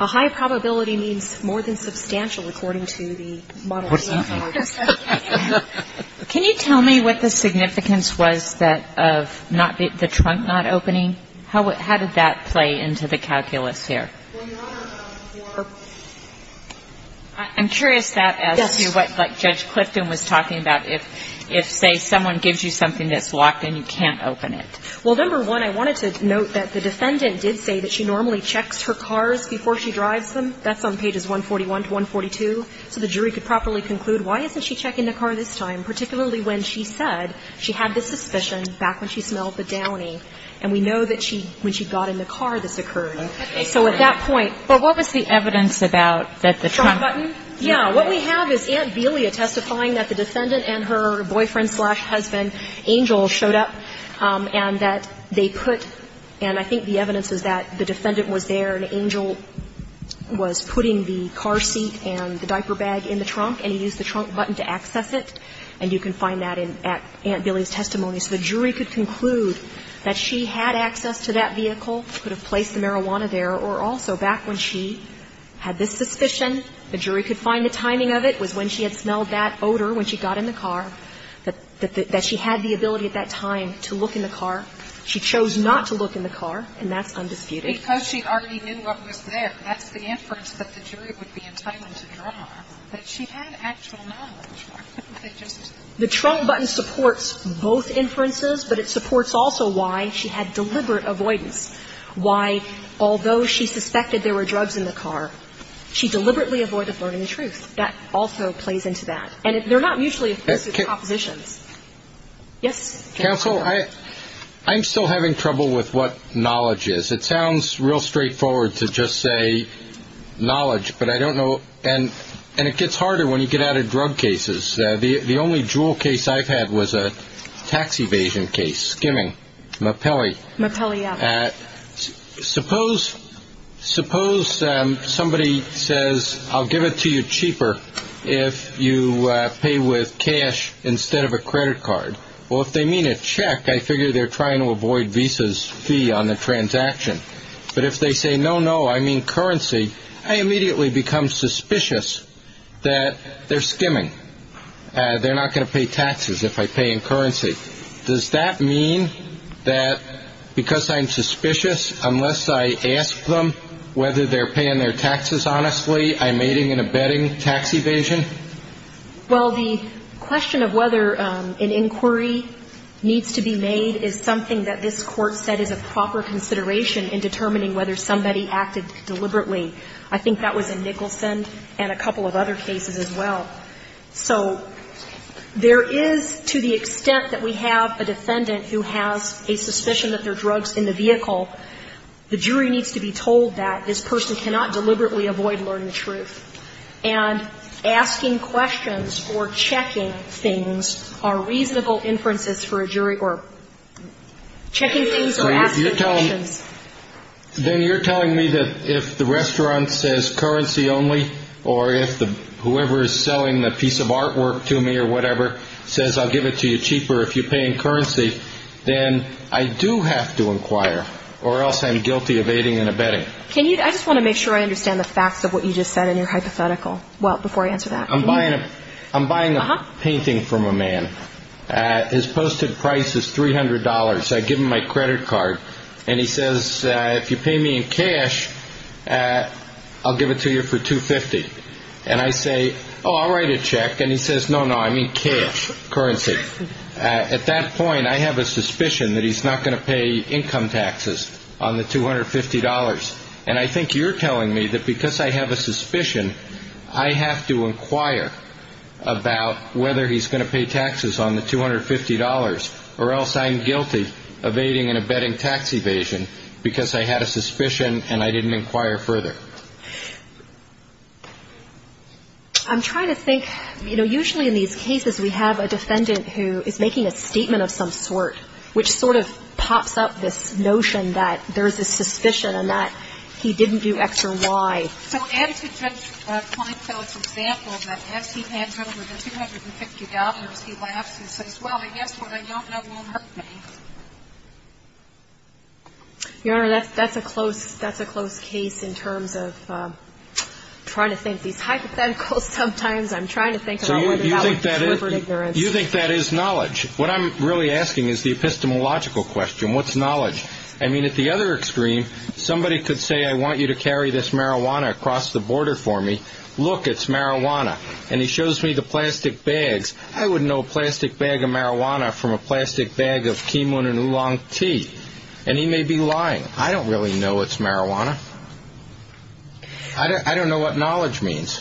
A high probability means more than substantial according to the model. What does that mean? Can you tell me what the significance was of the trunk not opening? How did that play into the calculus here? Well, Your Honor, for I'm curious as to what Judge Clifton was talking about. If, say, someone gives you something that's locked and you can't open it. Well, number one, I wanted to note that the defendant did say that she normally checks her cars before she drives them. That's on pages 141 to 142. So the jury could properly conclude why isn't she checking the car this time, particularly when she said she had this suspicion back when she smelled the downy. And we know that when she got in the car, this occurred. So at that point But what was the evidence about that the trunk Trunk button? What we have is Aunt Belia testifying that the defendant and her boyfriend husband, Angel, showed up and that they put, and I think the evidence is that the defendant was there and Angel was putting the car seat and the diaper bag in the trunk, and he used the trunk button to access it. And you can find that in Aunt Belia's testimony. So the jury could conclude that she had access to that vehicle, could have placed the marijuana there, or also back when she had this suspicion, the jury could find the timing of it, was when she had smelled that odor when she got in the car. That she had the ability at that time to look in the car. She chose not to look in the car, and that's undisputed. Because she already knew what was there. That's the inference that the jury would be entitled to draw, that she had actual knowledge. Why couldn't they just The trunk button supports both inferences, but it supports also why she had deliberate avoidance, why, although she suspected there were drugs in the car, she deliberately avoided learning the truth. That also plays into that. And they're not mutually exclusive propositions. Yes? Counsel, I'm still having trouble with what knowledge is. It sounds real straightforward to just say knowledge, but I don't know. And it gets harder when you get out of drug cases. The only jewel case I've had was a tax evasion case, skimming, Mapelli. Mapelli, yeah. Suppose somebody says, I'll give it to you cheaper if you pay with cash instead of a credit card. Well, if they mean a check, I figure they're trying to avoid Visa's fee on the transaction. But if they say, no, no, I mean currency, I immediately become suspicious that they're skimming. They're not going to pay taxes if I pay in currency. Does that mean that because I'm suspicious, unless I ask them whether they're paying their taxes honestly, I'm aiding and abetting tax evasion? Well, the question of whether an inquiry needs to be made is something that this Court said is a proper consideration in determining whether somebody acted deliberately. I think that was in Nicholson and a couple of other cases as well. So there is, to the extent that we have a defendant who has a suspicion that there are drugs in the vehicle, the jury needs to be told that this person cannot deliberately avoid learning the truth. And asking questions or checking things are reasonable inferences for a jury or checking things or asking questions. Then you're telling me that if the restaurant says currency only or if whoever is selling the piece of artwork to me or whatever says I'll give it to you cheaper if you're paying currency, then I do have to inquire or else I'm guilty of aiding and abetting. I just want to make sure I understand the facts of what you just said in your hypothetical. Well, before I answer that. I'm buying a painting from a man. His posted price is $300. I give him my credit card. And he says if you pay me in cash, I'll give it to you for $250. And I say, oh, I'll write a check. And he says, no, no, I mean cash, currency. At that point, I have a suspicion that he's not going to pay income taxes on the $250. And I think you're telling me that because I have a suspicion, I have to inquire about whether he's going to pay taxes on the $250 or else I'm guilty of aiding and abetting tax evasion because I had a suspicion and I didn't inquire further. I'm trying to think, you know, usually in these cases, we have a defendant who is making a statement of some sort, which sort of pops up this notion that there's a suspicion and that he didn't do X or Y. So add to Judge Kleinfeld's example that as he hands over the $250, he laughs and says, well, I guess what I don't know won't hurt me. Your Honor, that's a close case in terms of trying to think these hypotheticals sometimes. I'm trying to think about whether that was deliberate ignorance. You think that is knowledge. What I'm really asking is the epistemological question. What's knowledge? I mean, at the other extreme, somebody could say, I want you to carry this marijuana across the border for me. Look, it's marijuana. And he shows me the plastic bags. I would know a plastic bag of marijuana from a plastic bag of quinoa and oolong tea. And he may be lying. I don't really know it's marijuana. I don't know what knowledge means.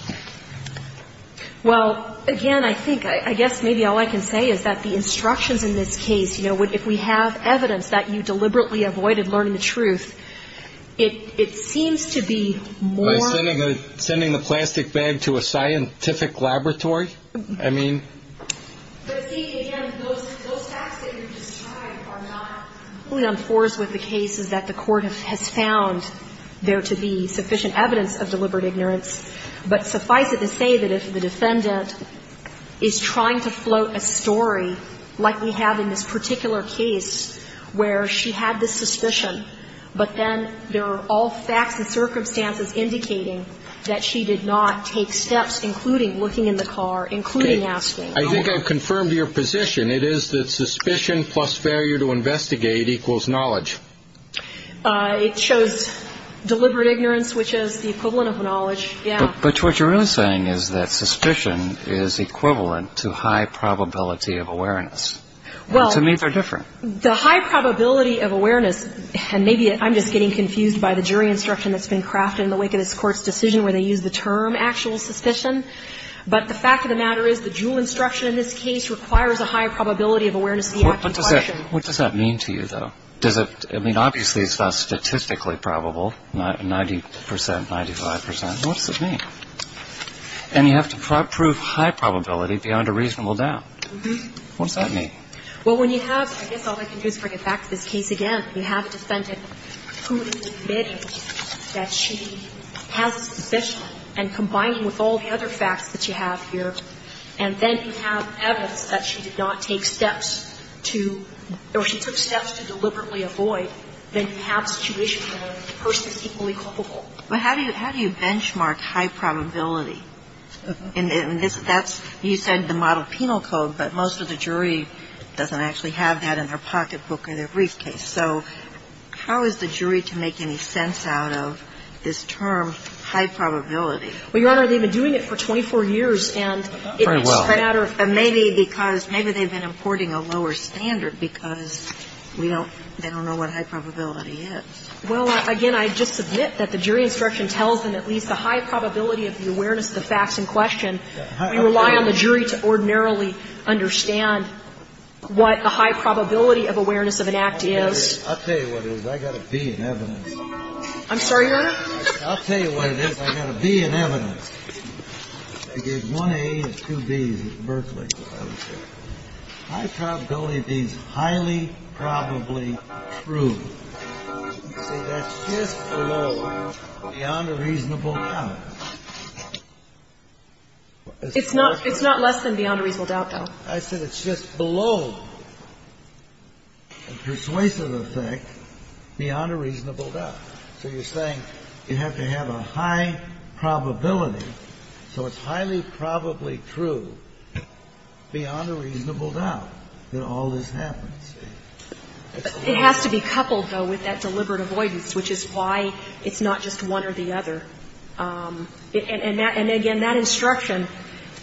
Well, again, I think, I guess maybe all I can say is that the instructions in this case, you know, if we have evidence that you deliberately avoided learning the truth, it seems to be more. By sending the plastic bag to a scientific laboratory? I mean. But, see, again, those facts that you're describing are not completely on par with the cases that the Court has found there to be sufficient evidence of deliberate ignorance. But suffice it to say that if the defendant is trying to float a story like we have in this particular case where she had this suspicion, but then there are all facts and circumstances indicating that she did not take steps, including looking in the car, including asking. I think I've confirmed your position. It is that suspicion plus failure to investigate equals knowledge. It shows deliberate ignorance, which is the equivalent of knowledge. Yeah. But what you're really saying is that suspicion is equivalent to high probability of awareness. Well. To me they're different. The high probability of awareness, and maybe I'm just getting confused by the jury instruction that's been crafted in the wake of this Court's decision where they use the term actual suspicion, but the fact of the matter is the jury instruction in this case requires a high probability of awareness of the actual question. What does that mean to you, though? I mean, obviously it's statistically probable, 90 percent, 95 percent. What does it mean? And you have to prove high probability beyond a reasonable doubt. What does that mean? Well, when you have, I guess all I can do is bring it back to this case again. When you have a defendant who is admitting that she has a suspicion and combining with all the other facts that you have here, and then you have evidence that she did not take steps to or she took steps to deliberately avoid, then you have a situation where the person is equally culpable. Well, how do you benchmark high probability? And that's, you said the model penal code, but most of the jury doesn't actually have that in their pocketbook or their briefcase. So how is the jury to make any sense out of this term, high probability? Well, Your Honor, they've been doing it for 24 years, and it's a matter of fact. Very well. But maybe because, maybe they've been importing a lower standard because we don't they don't know what high probability is. Well, again, I just submit that the jury instruction tells them at least the high probability of the awareness of the facts in question. We rely on the jury to ordinarily understand what the high probability of awareness of an act is. I'll tell you what it is. I've got a B in evidence. I'm sorry, Your Honor? I'll tell you what it is. I've got a B in evidence. I gave one A and two Bs at Berkeley. High probability is highly probably true. See, that's just below beyond a reasonable doubt. It's not less than beyond a reasonable doubt, though. I said it's just below a persuasive effect beyond a reasonable doubt. So you're saying you have to have a high probability, so it's highly probably true beyond a reasonable doubt that all this happens. It has to be coupled, though, with that deliberate avoidance, which is why it's not just one or the other. And again, that instruction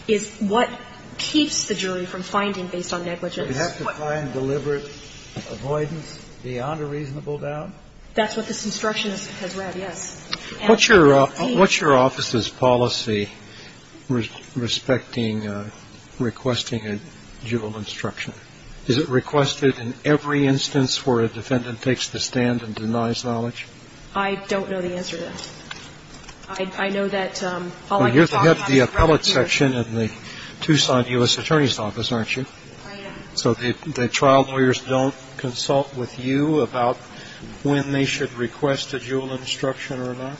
is what keeps the jury from finding based on negligence. But you have to find deliberate avoidance beyond a reasonable doubt? That's what this instruction has read, yes. And it's changed. What's your office's policy respecting requesting a judicial instruction? Is it requested in every instance where a defendant takes the stand and denies knowledge? I don't know the answer to that. I know that all I can talk about is right here. Well, you're the head of the appellate section in the Tucson U.S. Attorney's Office, aren't you? I am. So the trial lawyers don't consult with you about when they should request a jewel instruction or not?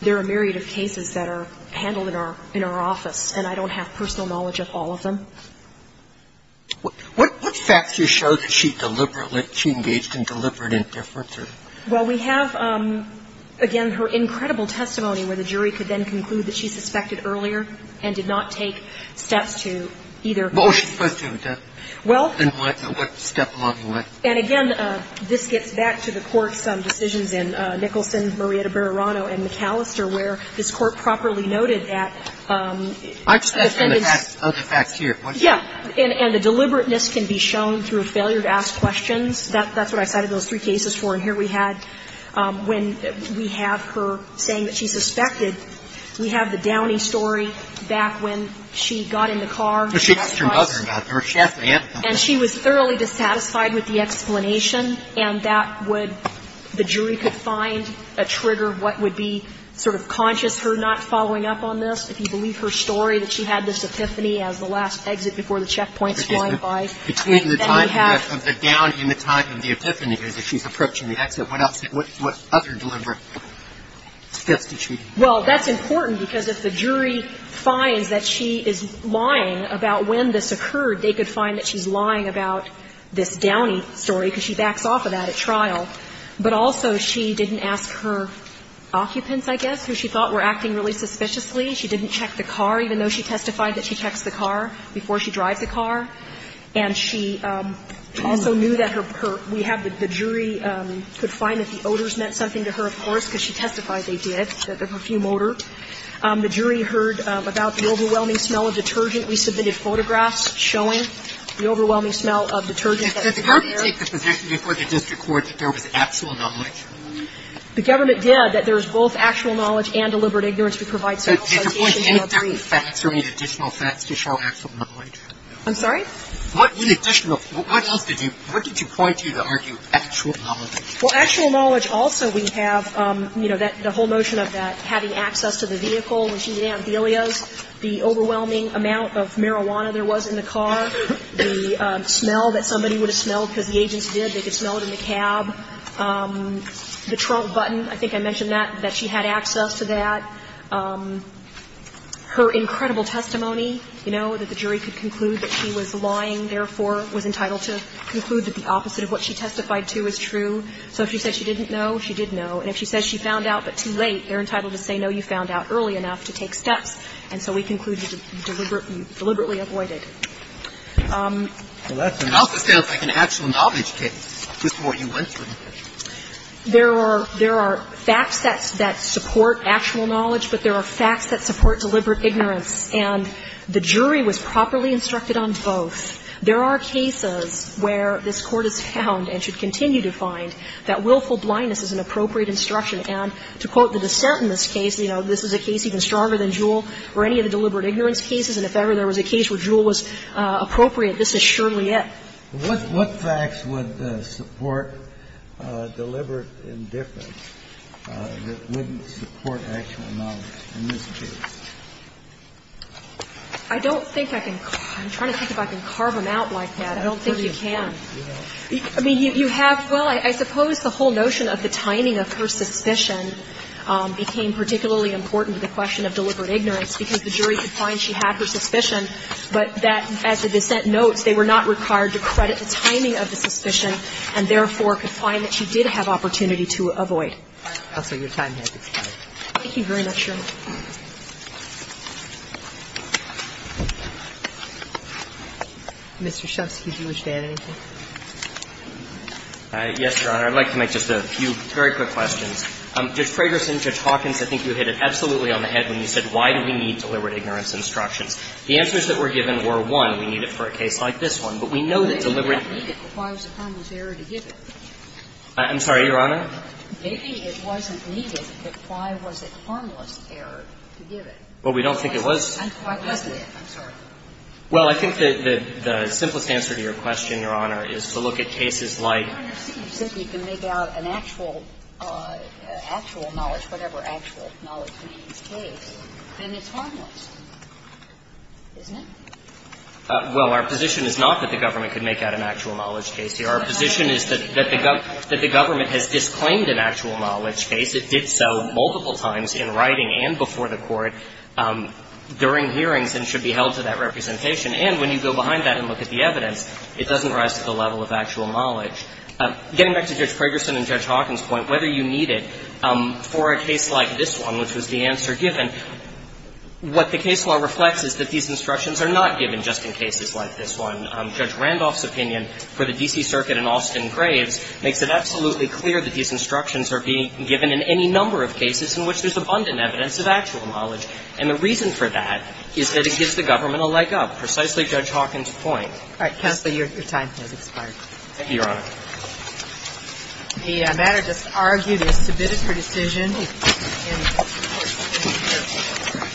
There are a myriad of cases that are handled in our office, and I don't have personal knowledge of all of them. What facts do you show that she deliberately, she engaged in deliberate indifference or? Well, we have, again, her incredible testimony where the jury could then conclude that she suspected earlier and did not take steps to either. Well, she was supposed to, wasn't she? Well. And what step along the way? And again, this gets back to the Court's decisions in Nicholson, Murrieta-Barerano and McAllister, where this Court properly noted that the defendant's. I'm just going to ask other facts here. Yeah. And the deliberateness can be shown through a failure to ask questions. That's what I cited those three cases for. And here we had, when we have her saying that she suspected, we have the Downey story back when she got in the car and asked us. But she asked her mother about it. She asked my aunt about it. And she was thoroughly dissatisfied with the explanation, and that would, the jury could find a trigger, what would be sort of conscious her not following up on this if you believe her story, that she had this epiphany as the last exit before the trial. But I think that's important, because if the jury finds that she is lying about when this occurred, they could find that she's lying about this Downey story because she backs off of that at trial. But also, she didn't ask her occupants, I guess, who she thought were acting really suspiciously. She didn't check the car, even though she testified that she checks the car before she drives the car. And she also knew that her, we have the jury could find that the odors meant something to her, of course, because she testified they did, that the perfume odor. The jury heard about the overwhelming smell of detergent. We submitted photographs showing the overwhelming smell of detergent that was in there. Sotomayor, did the government take the position before the district court that there was actual knowledge? The government did, that there is both actual knowledge and deliberate ignorance. We provide self-citation in our brief. At this point, any facts or any additional facts to show actual knowledge? I'm sorry? What else did you, what did you point to to argue actual knowledge? Well, actual knowledge also, we have, you know, the whole notion of that having access to the vehicle when she was in Amphilia's, the overwhelming amount of marijuana there was in the car, the smell that somebody would have smelled because the agents did. They could smell it in the cab. The trunk button, I think I mentioned that, that she had access to that. We have her incredible testimony, you know, that the jury could conclude that she was lying, therefore, was entitled to conclude that the opposite of what she testified to is true. So if she said she didn't know, she did know. And if she says she found out but too late, they're entitled to say, no, you found out early enough to take steps. And so we concluded deliberately avoided. Well, that's a mouthful. It sounds like an actual knowledge case, just what you went through. There are facts that support actual knowledge, but there are facts that support deliberate ignorance. And the jury was properly instructed on both. There are cases where this Court has found and should continue to find that willful blindness is an appropriate instruction. And to quote the dissent in this case, you know, this is a case even stronger than Jewell or any of the deliberate ignorance cases, and if ever there was a case where Jewell was appropriate, this is surely it. So what facts would support deliberate indifference that wouldn't support actual knowledge in this case? I don't think I can – I'm trying to think if I can carve them out like that. I don't think you can. I mean, you have – well, I suppose the whole notion of the timing of her suspicion became particularly important to the question of deliberate ignorance because the jury could find she had her suspicion, but that, as the dissent notes, they were not required to credit the timing of the suspicion and therefore could find that she did have opportunity to avoid. Thank you very much, Your Honor. Mr. Shefsky, did you wish to add anything? Yes, Your Honor. I'd like to make just a few very quick questions. Judge Fragerson, Judge Hawkins, I think you hit it absolutely on the head when you said why do we need deliberate ignorance instructions. The answers that were given were, one, we need it for a case like this one, but we know that deliberate – Maybe it wasn't needed, but why was it harmless error to give it? I'm sorry, Your Honor? Maybe it wasn't needed, but why was it harmless error to give it? Well, we don't think it was. And why wasn't it? I'm sorry. Well, I think the simplest answer to your question, Your Honor, is to look at cases like – Then it's harmless, isn't it? Well, our position is not that the government could make out an actual knowledge case here. Our position is that the government has disclaimed an actual knowledge case. It did so multiple times in writing and before the Court during hearings and should be held to that representation. And when you go behind that and look at the evidence, it doesn't rise to the level of actual knowledge. Getting back to Judge Fragerson and Judge Hawkins' point, whether you need it for a case like this one, which was the answer given, what the case law reflects is that these instructions are not given just in cases like this one. Judge Randolph's opinion for the D.C. Circuit in Austin Graves makes it absolutely clear that these instructions are being given in any number of cases in which there's abundant evidence of actual knowledge. And the reason for that is that it gives the government a leg up, precisely Judge Hawkins' point. All right. Counselor, your time has expired. Thank you, Your Honor. The matter just argued is submitted for decision.